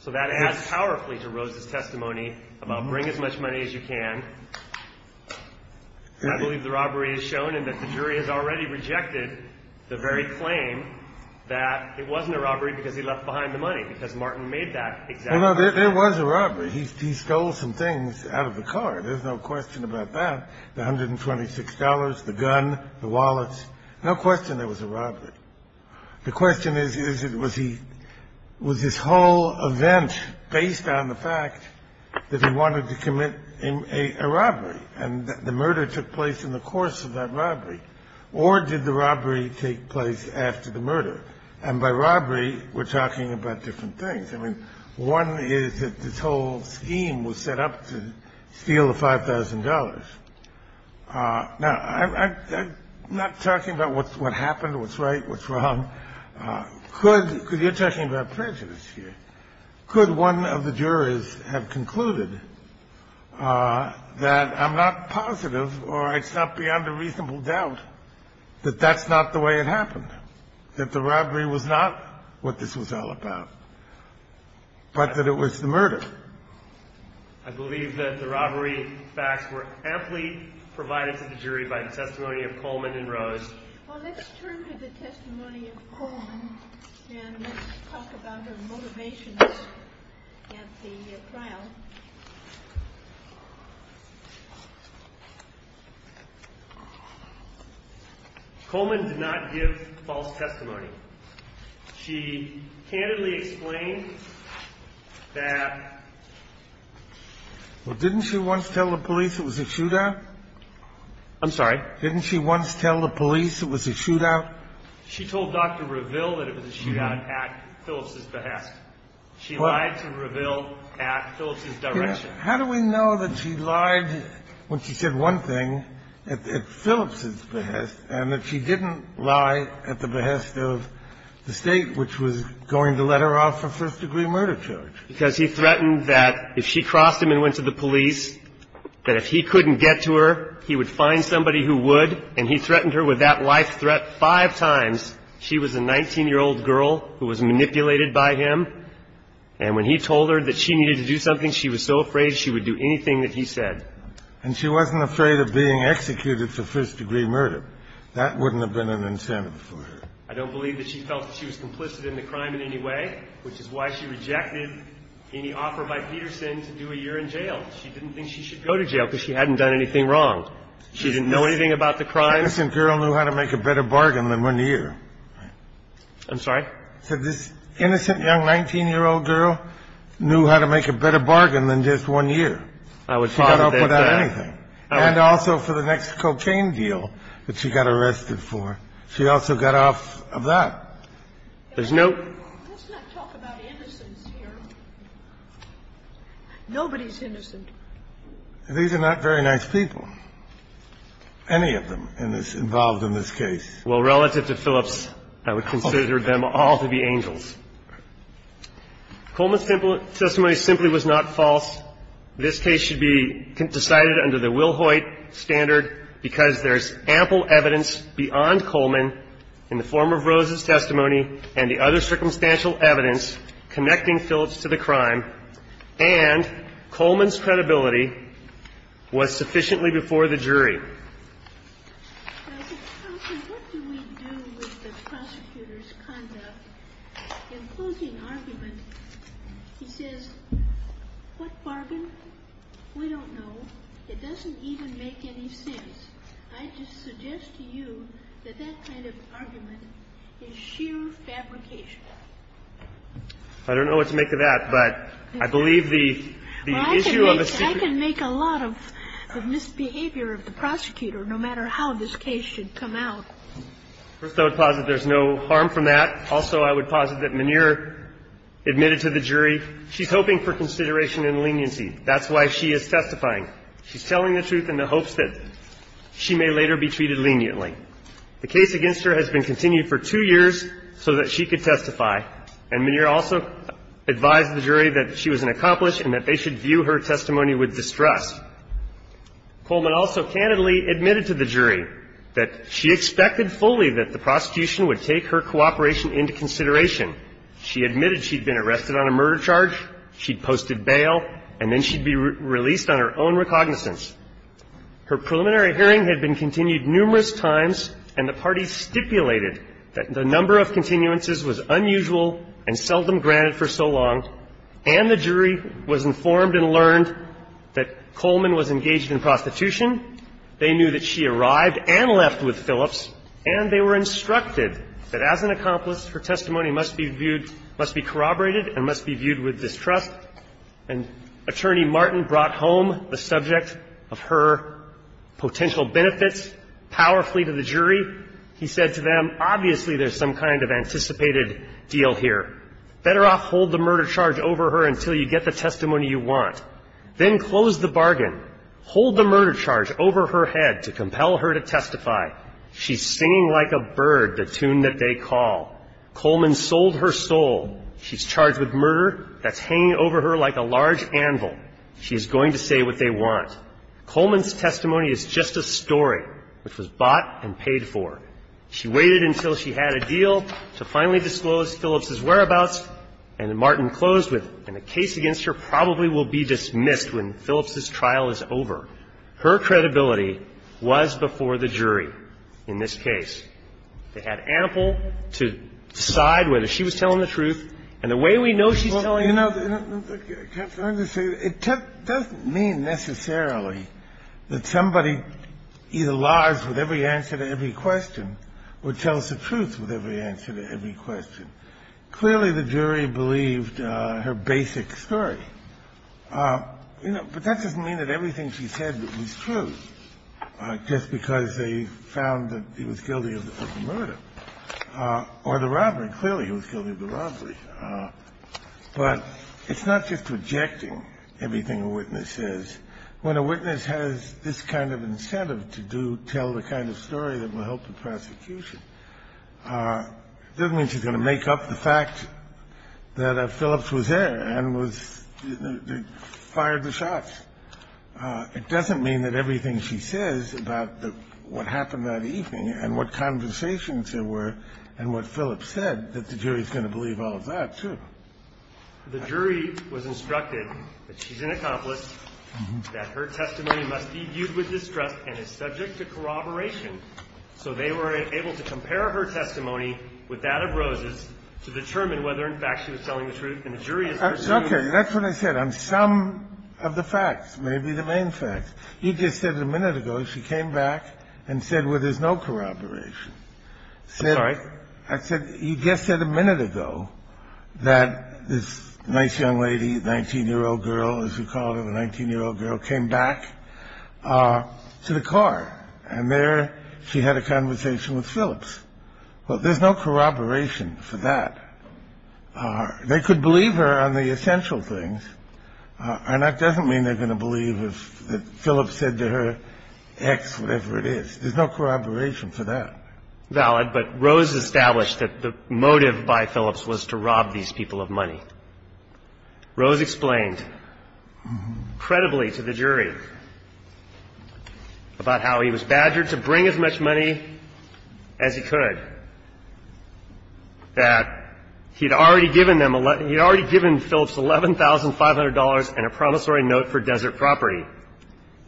So that adds powerfully to Rose's testimony about bring as much money as you can. I believe the robbery is shown and that the jury has already rejected the very claim that it wasn't a robbery because he left behind the money, because Martin made that exact claim. There was a robbery. He stole some things out of the car. There's no question about that. The $126, the gun, the wallets. No question there was a robbery. The question is, was his whole event based on the fact that he wanted to commit a robbery? And the murder took place in the course of that robbery. Or did the robbery take place after the murder? And by robbery, we're talking about different things. I mean, one is that this whole scheme was set up to steal the $5,000. Now, I'm not talking about what happened, what's right, what's wrong. Could, because you're talking about prejudice here, could one of the jurors have concluded that I'm not positive or it's not beyond a reasonable doubt that that's not the way it happened? That the robbery was not what this was all about, but that it was the murder? I believe that the robbery facts were amply provided to the jury by the testimony of Coleman and Rose. Well, let's turn to the testimony of Coleman and talk about her motivations at the trial. Coleman did not give false testimony. She candidly explained that — Well, didn't she once tell the police it was a shootout? I'm sorry? Didn't she once tell the police it was a shootout? She told Dr. Reville that it was a shootout at Phillips's behest. She lied to Reville at Phillips's direction. How do we know that she lied when she said one thing at Phillips's behest and that she didn't lie at the behest of the State, which was going to let her off for first-degree murder charge? Because he threatened that if she crossed him and went to the police, that if he couldn't get to her, he would find somebody who would, and he threatened her with that life threat five times. She was a 19-year-old girl who was manipulated by him. And when he told her that she needed to do something, she was so afraid she would do anything that he said. And she wasn't afraid of being executed for first-degree murder. That wouldn't have been an incentive for her. I don't believe that she felt she was complicit in the crime in any way, which is why she rejected any offer by Peterson to do a year in jail. She didn't think she should go to jail because she hadn't done anything wrong. She didn't know anything about the crime. This innocent girl knew how to make a better bargain than one year. I'm sorry? This innocent young 19-year-old girl knew how to make a better bargain than just one year. She got off without anything. And also for the next cocaine deal that she got arrested for, she also got off of that. There's no ---- Let's not talk about innocents here. Nobody's innocent. These are not very nice people, any of them involved in this case. Well, relative to Phillips, I would consider them all to be angels. Coleman's testimony simply was not false. This case should be decided under the Will Hoyt standard because there's ample evidence beyond Coleman in the form of Rose's testimony and the other circumstantial evidence connecting Phillips to the crime, and Coleman's credibility was sufficiently before the jury. What do we do with the prosecutor's conduct, including argument? He says, what bargain? We don't know. It doesn't even make any sense. I just suggest to you that that kind of argument is sheer fabrication. I don't know what to make of that, but I believe the issue of a ---- I can make a lot of misbehavior of the prosecutor, no matter how this case should come out. First, I would posit there's no harm from that. Also, I would posit that Maneer admitted to the jury she's hoping for consideration and leniency. That's why she is testifying. She's telling the truth in the hopes that she may later be treated leniently. The case against her has been continued for two years so that she could testify, and Maneer also advised the jury that she was an accomplice and that they should view her testimony with distrust. Coleman also candidly admitted to the jury that she expected fully that the prosecution would take her cooperation into consideration. She admitted she'd been arrested on a murder charge, she'd posted bail, and then she'd be released on her own recognizance. Her preliminary hearing had been continued numerous times, and the parties stipulated that the number of continuances was unusual and seldom granted for so long, and the jury was informed and learned that Coleman was engaged in prostitution. They knew that she arrived and left with Phillips, and they were instructed that as an accomplice, her testimony must be viewed ---- must be corroborated and must be viewed with distrust. And Attorney Martin brought home the subject of her potential benefits powerfully to the jury. He said to them, obviously there's some kind of anticipated deal here. Better off hold the murder charge over her until you get the testimony you want. Then close the bargain. Hold the murder charge over her head to compel her to testify. She's singing like a bird the tune that they call. Coleman sold her soul. She's charged with murder that's hanging over her like a large anvil. She's going to say what they want. Coleman's testimony is just a story which was bought and paid for. She waited until she had a deal to finally disclose Phillips's whereabouts, and Martin closed with, and the case against her probably will be dismissed when Phillips's trial is over. Her credibility was before the jury in this case. They had ample to decide whether she was telling the truth. And the way we know she's telling the truth ---- It doesn't mean necessarily that somebody either lies with every answer to every question or tells the truth with every answer to every question. Clearly the jury believed her basic story. But that doesn't mean that everything she said was true just because they found that he was guilty of the murder or the robbery. Clearly he was guilty of the robbery. But it's not just rejecting everything a witness says. When a witness has this kind of incentive to tell the kind of story that will help the prosecution, it doesn't mean she's going to make up the fact that Phillips was there and fired the shots. It doesn't mean that everything she says about what happened that evening and what conversations there were and what Phillips said, that the jury is going to believe all of that, too. The jury was instructed that she's an accomplice, that her testimony must be viewed with distrust and is subject to corroboration. So they were able to compare her testimony with that of Rose's to determine whether, in fact, she was telling the truth. And the jury is ---- That's okay. That's what I said. On some of the facts, maybe the main facts. You just said a minute ago she came back and said, well, there's no corroboration. I'm sorry? I said you just said a minute ago that this nice young lady, 19-year-old girl, as you called her, the 19-year-old girl, came back to the car. And there she had a conversation with Phillips. Well, there's no corroboration for that. They could believe her on the essential things. And that doesn't mean they're going to believe that Phillips said to her X, whatever it is. There's no corroboration for that. Valid. But Rose established that the motive by Phillips was to rob these people of money. Rose explained credibly to the jury about how he was badgered to bring as much money as he could, that he had already given Phillips $11,500 and a promissory note for desert property.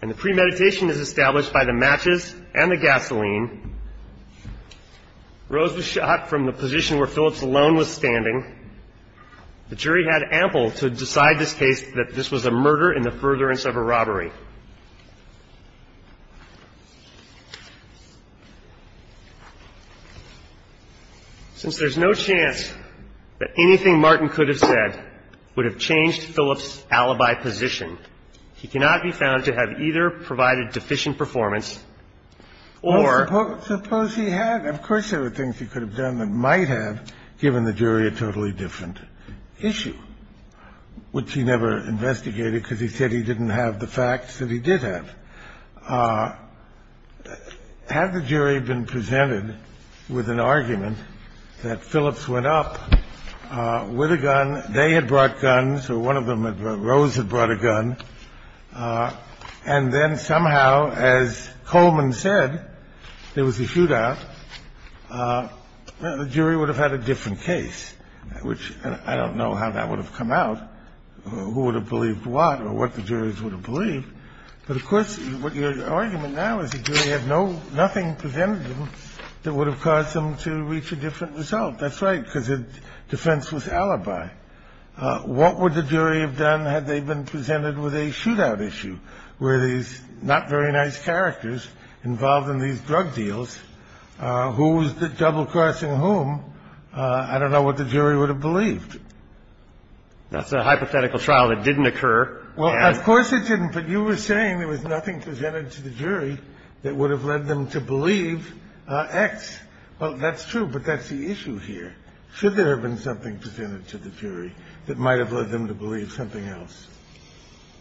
And the premeditation is established by the matches and the gasoline. Rose was shot from the position where Phillips alone was standing. The jury had ample to decide this case that this was a murder in the furtherance of a robbery. Since there's no chance that anything Martin could have said would have changed Phillips's alibi position, he cannot be found to have either provided deficient performance or ---- Suppose he had. Of course there were things he could have done that might have given the jury a totally different issue, which he never investigated because he said he didn't have the facts that he did have. Had the jury been presented with an argument that Phillips went up with a gun, they had brought guns or one of them, Rose, had brought a gun. And then somehow, as Coleman said, there was a shootout. The jury would have had a different case, which I don't know how that would have come out, who would have believed what or what the jurors would have believed. But, of course, what your argument now is the jury had nothing presented them that would have caused them to reach a different result. That's right, because defense was alibi. What would the jury have done had they been presented with a shootout issue where these not very nice characters involved in these drug deals, who was the double crossing whom, I don't know what the jury would have believed. That's a hypothetical trial that didn't occur. Well, of course it didn't. But you were saying there was nothing presented to the jury that would have led them to believe X. Well, that's true, but that's the issue here. Should there have been something presented to the jury that might have led them to believe something else?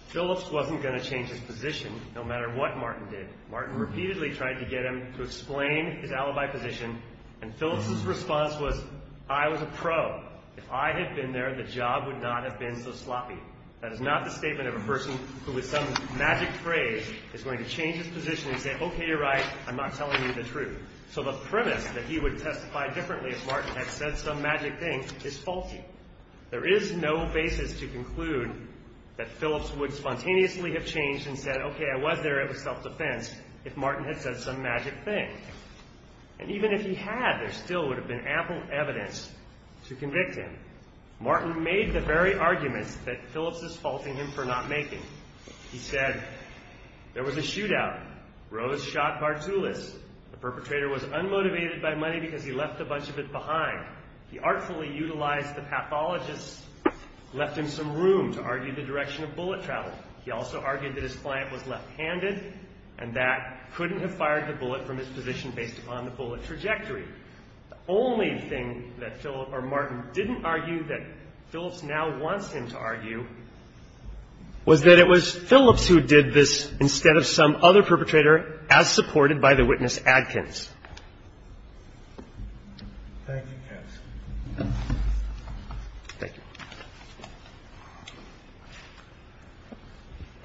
Phillips wasn't going to change his position no matter what Martin did. Martin repeatedly tried to get him to explain his alibi position, and Phillips' response was, I was a pro. If I had been there, the job would not have been so sloppy. That is not the statement of a person who with some magic phrase is going to change his position and say, okay, you're right, I'm not telling you the truth. So the premise that he would testify differently if Martin had said some magic thing is faulty. There is no basis to conclude that Phillips would spontaneously have changed and said, okay, I was there, it was self-defense, if Martin had said some magic thing. And even if he had, there still would have been ample evidence to convict him. Martin made the very arguments that Phillips is faulting him for not making. He said, there was a shootout. Rose shot Bartulis. The perpetrator was unmotivated by money because he left a bunch of it behind. He artfully utilized the pathologist, left him some room to argue the direction of bullet travel. He also argued that his client was left-handed and that couldn't have fired the bullet from his position based upon the bullet trajectory. The only thing that Martin didn't argue that Phillips now wants him to argue was that it was Phillips who did this instead of some other perpetrator as supported by the witness Adkins. Thank you. Thank you.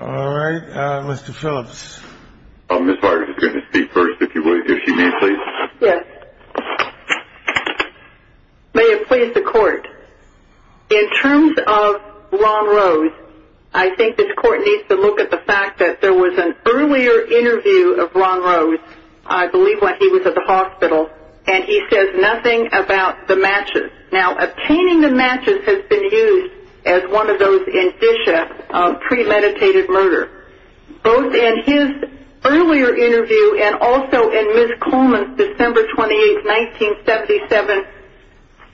All right. Mr. Phillips. I'm just going to speak first, if you would, if you may, please. Yes. May it please the court. In terms of Ron Rose, I think this court needs to look at the fact that there was an earlier interview of Ron Rose. I believe when he was at the hospital, and he says nothing about the matches. Now, obtaining the matches has been used as one of those indicia of premeditated murder. Both in his earlier interview and also in Ms. Coleman's December 28, 1977,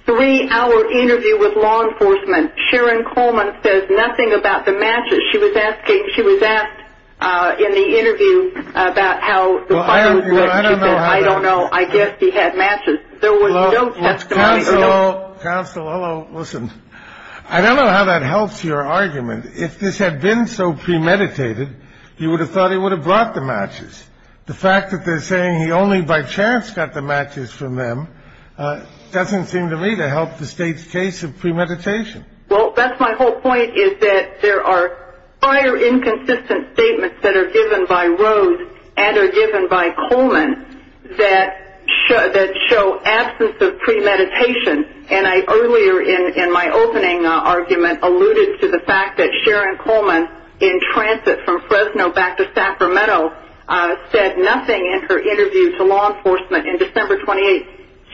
three-hour interview with law enforcement, Sharon Coleman says nothing about the matches. She was asking. She was asked in the interview about how I don't know. I don't know. I guess he had matches. There was no testimony. Listen, I don't know how that helps your argument. If this had been so premeditated, you would have thought he would have brought the matches. The fact that they're saying he only by chance got the matches from them doesn't seem to me to help the state's case of premeditation. Well, that's my whole point is that there are prior inconsistent statements that are given by Rose and are given by Coleman that show absence of premeditation. And I earlier in my opening argument alluded to the fact that Sharon Coleman, in transit from Fresno back to Sacramento, said nothing in her interview to law enforcement in December 28.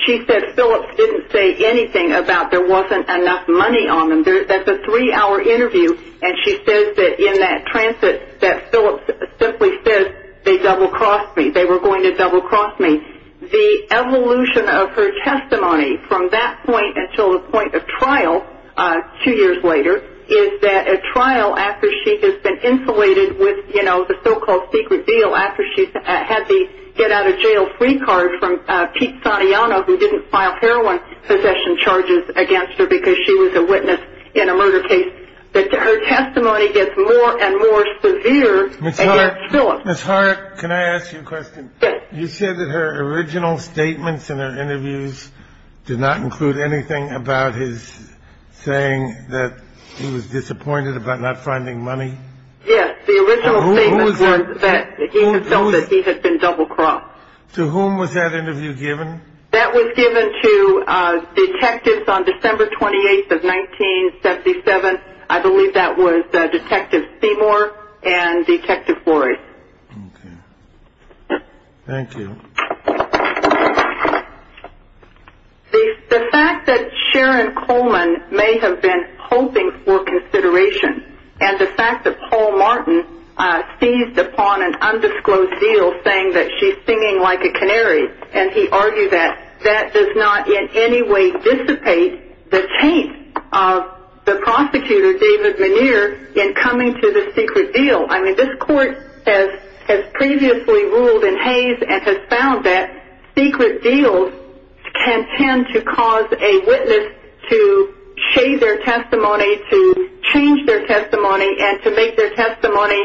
She said Phillips didn't say anything about there wasn't enough money on them. That's a three-hour interview, and she says that in that transit that Phillips simply said they double-crossed me. They were going to double-cross me. The evolution of her testimony from that point until the point of trial two years later is that a trial after she has been filed heroin possession charges against her because she was a witness in a murder case, that her testimony gets more and more severe against Phillips. Ms. Hart, can I ask you a question? Yes. You said that her original statements in her interviews did not include anything about his saying that he was disappointed about not finding money? Yes, the original statement was that he felt that he had been double-crossed. To whom was that interview given? That was given to detectives on December 28th of 1977. I believe that was Detective Seymour and Detective Floyd. Okay. Thank you. The fact that Sharon Coleman may have been hoping for consideration and the fact that Paul Martin seized upon an undisclosed deal saying that she's singing like a canary and he argued that that does not in any way dissipate the taint of the prosecutor, David Muneer, in coming to the secret deal. I mean, this court has previously ruled in haze and has found that secret deals can tend to cause a witness to shade their testimony, to change their testimony, and to make their testimony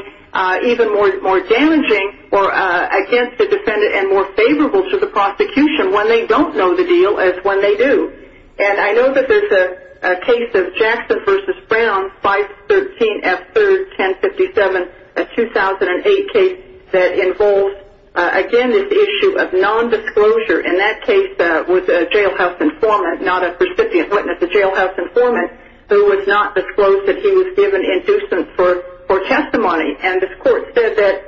even more damaging or against the defendant and more favorable to the prosecution when they don't know the deal as when they do. And I know that there's a case of Jackson v. Brown, 513F3-1057, a 2008 case that involves, again, this issue of nondisclosure. And that case was a jailhouse informant, not a recipient witness, a jailhouse informant, who was not disclosed that he was given inducent for testimony. And this court said that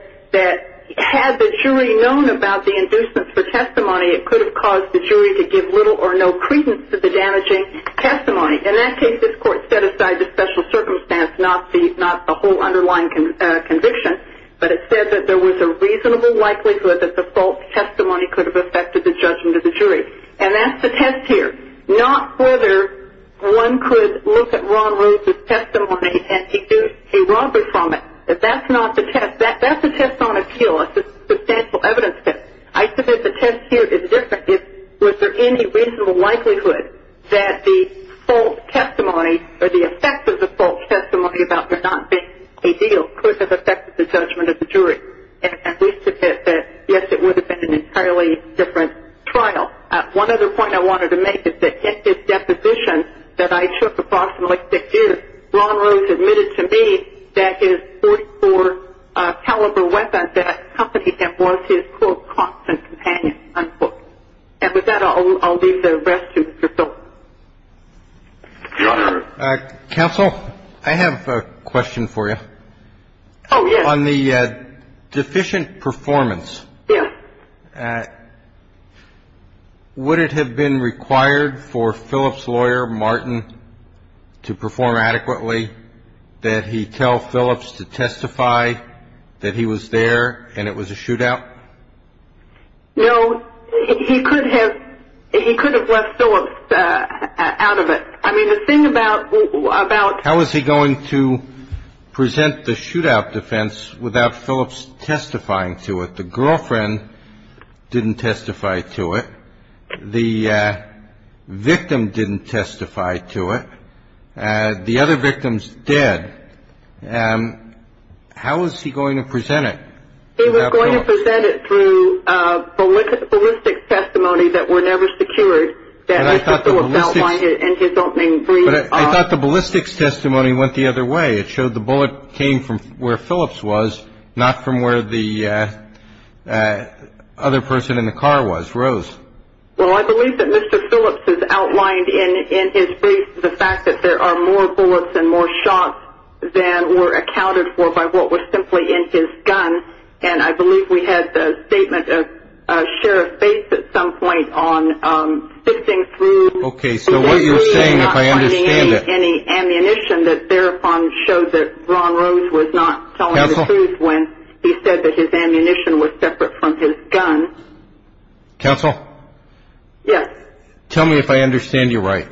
had the jury known about the inducent for testimony, it could have caused the jury to give little or no credence to the damaging testimony. In that case, this court set aside the special circumstance, not the whole underlying conviction, but it said that there was a reasonable likelihood that the false testimony could have affected the judgment of the jury. And that's the test here, not whether one could look at Ron Rhodes' testimony and deduce a robbery from it. That's not the test. That's a test on appeal, a substantial evidence test. I submit the test here is different. Was there any reasonable likelihood that the false testimony or the effect of the false testimony about there not being a deal could have affected the judgment of the jury? And we submit that, yes, it would have been an entirely different trial. One other point I wanted to make is that in his deposition that I took approximately six years, Ron Rhodes admitted to me that his .44-caliber weapon, that company that was his, quote, constant companion, unquote. And with that, I'll leave the rest to your thought. Counsel, I have a question for you. Oh, yes. On the deficient performance. Yes. Would it have been required for Phillips' lawyer, Martin, to perform adequately, that he tell Phillips to testify that he was there and it was a shootout? No. He could have left Phillips out of it. I mean, the thing about ---- How was he going to present the shootout defense without Phillips testifying to it? The girlfriend didn't testify to it. The victim didn't testify to it. The other victims did. How was he going to present it? He was going to present it through ballistics testimony that were never secured. And I thought the ballistics testimony went the other way. It showed the bullet came from where Phillips was, not from where the other person in the car was. Rose? Well, I believe that Mr. Phillips has outlined in his brief the fact that there are more bullets and more shots than were accounted for by what was simply in his gun. And I believe we had the statement of Sheriff Bates at some point on sifting through ---- Okay, so what you're saying, if I understand it ---- He was really not finding any ammunition that thereupon shows that Ron Rose was not telling the truth when he said that his ammunition was separate from his gun. Counsel? Yes. Tell me if I understand you right.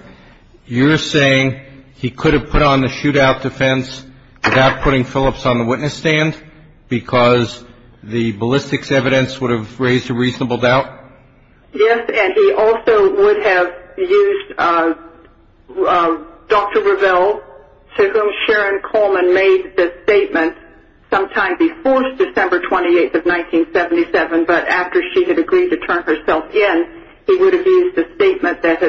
You're saying he could have put on the shootout defense without putting Phillips on the witness stand because the ballistics evidence would have raised a reasonable doubt? Yes, and he also would have used Dr. Reville, to whom Sharon Coleman made the statement sometime before December 28th of 1977, but after she had agreed to turn herself in, he would have used the statement that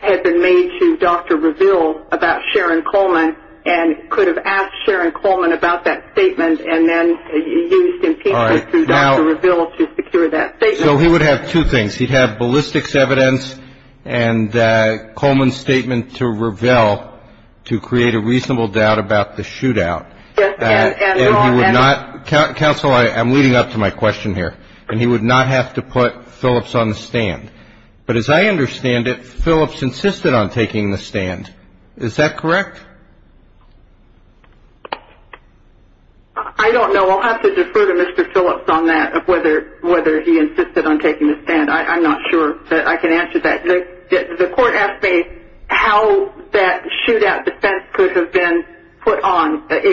had been made to Dr. Reville about Sharon Coleman and could have asked Sharon Coleman about that statement and then used impeachment through Dr. Reville to secure that statement. So he would have two things. He'd have ballistics evidence and Coleman's statement to Reville to create a reasonable doubt about the shootout. Yes. And he would not ---- Counsel, I'm leading up to my question here, and he would not have to put Phillips on the stand. But as I understand it, Phillips insisted on taking the stand. Is that correct? I don't know. I'll have to defer to Mr. Phillips on that, whether he insisted on taking the stand. I'm not sure that I can answer that. The court asked me how that shootout defense could have been put on. Yes,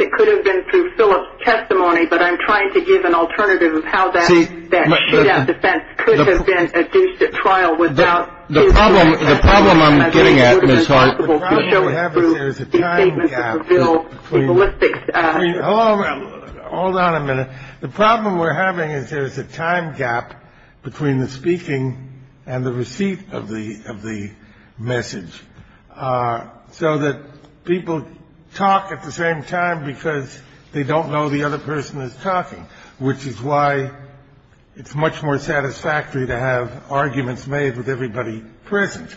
it could have been through Phillips' testimony, but I'm trying to give an alternative of how that shootout defense could have been adduced at trial without ---- The problem I'm getting at, Ms. Hart, the problem we're having is there's a time gap between ---- Hold on a minute. The problem we're having is there's a time gap between the speaking and the receipt of the message, so that people talk at the same time because they don't know the other person is talking, which is why it's much more satisfactory to have arguments made with everybody present.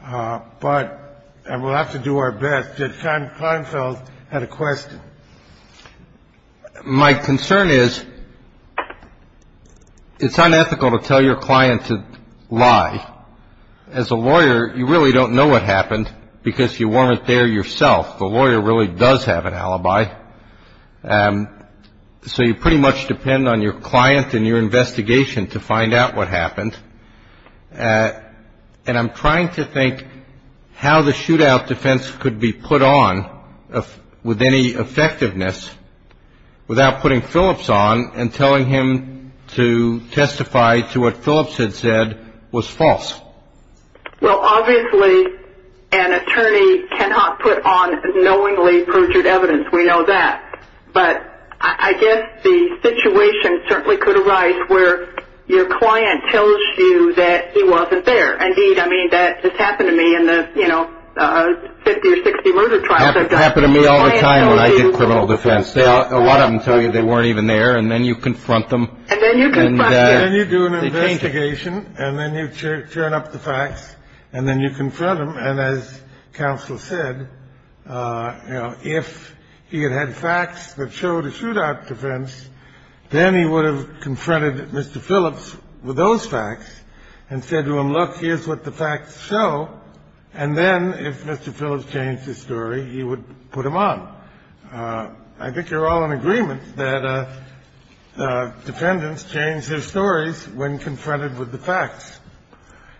But we'll have to do our best. Judge Kleinfeld had a question. My concern is it's unethical to tell your client to lie. As a lawyer, you really don't know what happened because you weren't there yourself. The lawyer really does have an alibi. So you pretty much depend on your client and your investigation to find out what happened. And I'm trying to think how the shootout defense could be put on with any effectiveness without putting Phillips on and telling him to testify to what Phillips had said was false. Well, obviously, an attorney cannot put on knowingly perjured evidence. We know that. But I guess the situation certainly could arise where your client tells you that he wasn't there. Indeed, I mean, that just happened to me in the 50 or 60 murder trials I've done. Happened to me all the time when I did criminal defense. A lot of them tell you they weren't even there, and then you confront them. And then you confront them. And then you do an investigation, and then you turn up the facts, and then you confront them. And as counsel said, if he had had facts that showed a shootout defense, then he would have confronted Mr. Phillips with those facts and said to him, look, here's what the facts show. And then if Mr. Phillips changed his story, he would put him on. I think you're all in agreement that defendants change their stories when confronted with the facts.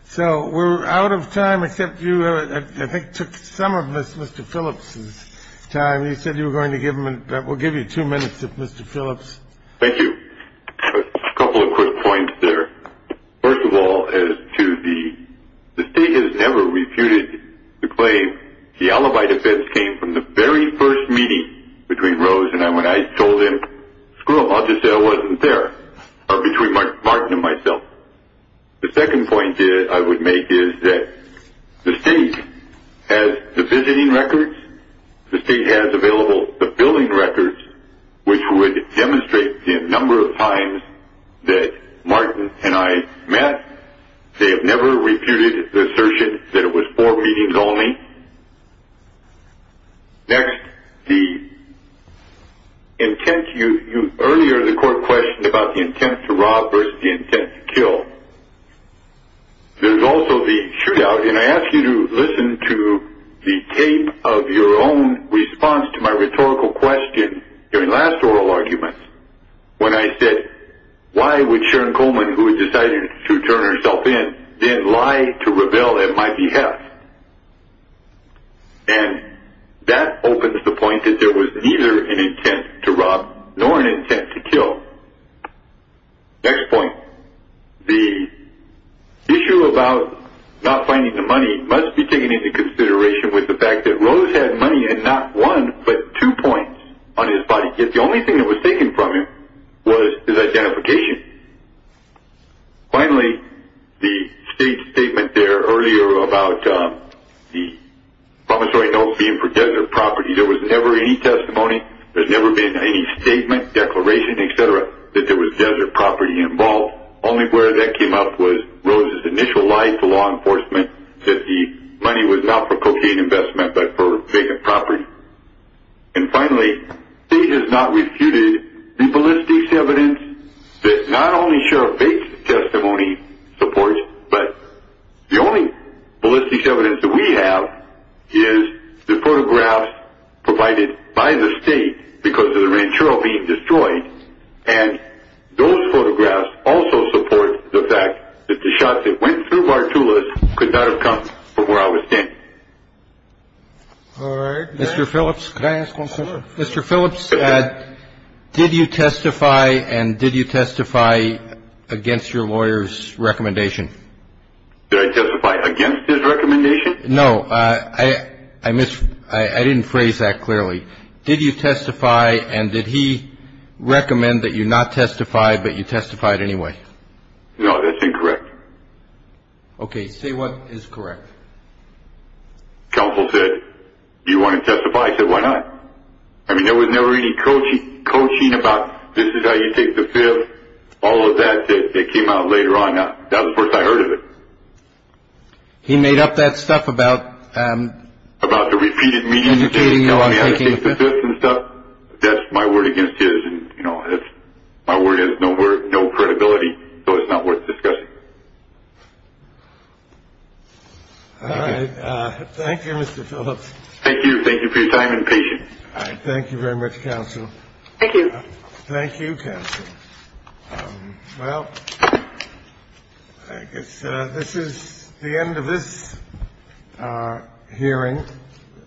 So we're out of time, except you, I think, took some of Mr. Phillips' time. You said you were going to give him and we'll give you two minutes if Mr. Phillips. Thank you. A couple of quick points there. First of all, as to the state has never refuted the claim, the alibi defense came from the very first meeting between Rose and I when I told him, screw them, I'll just say I wasn't there, or between Martin and myself. The second point I would make is that the state has the visiting records. The state has available the billing records, which would demonstrate the number of times that Martin and I met. They have never refuted the assertion that it was four meetings only. Next, the intent, earlier the court questioned about the intent to rob versus the intent to kill. There's also the shootout, and I ask you to listen to the tape of your own response to my rhetorical question during last oral argument when I said, why would Sharon Coleman, who had decided to turn herself in, then lie to rebel at my behalf? And that opens the point that there was neither an intent to rob nor an intent to kill. Next point, the issue about not finding the money must be taken into consideration with the fact that Rose had money and not one but two points on his body, yet the only thing that was taken from him was his identification. Finally, the state's statement there earlier about the promissory notes being for desert property, there was never any testimony. There's never been any statement, declaration, et cetera, that there was desert property involved. Only where that came up was Rose's initial lie to law enforcement that the money was not for cocaine investment but for vacant property. And finally, the state has not refuted the ballistics evidence that not only Sheriff Bates' testimony supports, but the only ballistics evidence that we have is the photographs provided by the state because of the ranch trail being destroyed. And those photographs also support the fact that the shots that went through Bartula's could not have come from where I was standing. All right. Mr. Phillips, can I ask one question? Mr. Phillips, did you testify and did you testify against your lawyer's recommendation? Did I testify against his recommendation? No. I didn't phrase that clearly. Did you testify and did he recommend that you not testify but you testified anyway? No, that's incorrect. Okay. Say what is correct. Counsel said, do you want to testify? I said, why not? I mean, there was never any coaching about this is how you take the fifth, all of that. It came out later on. That was the first I heard of it. He made up that stuff about? About the repeated meetings and things, telling me how to take the fifth and stuff. That's my word against his. My word has no credibility, so it's not worth discussing. All right. Thank you, Mr. Phillips. Thank you. Thank you for your time and patience. All right. Thank you very much, counsel. Thank you. Thank you, counsel. Well, I guess this is the end of this hearing.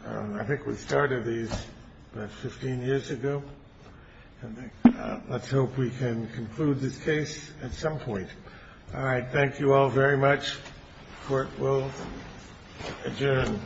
I think we started these 15 years ago. Let's hope we can conclude this case at some point. All right. Thank you all very much. Court will adjourn.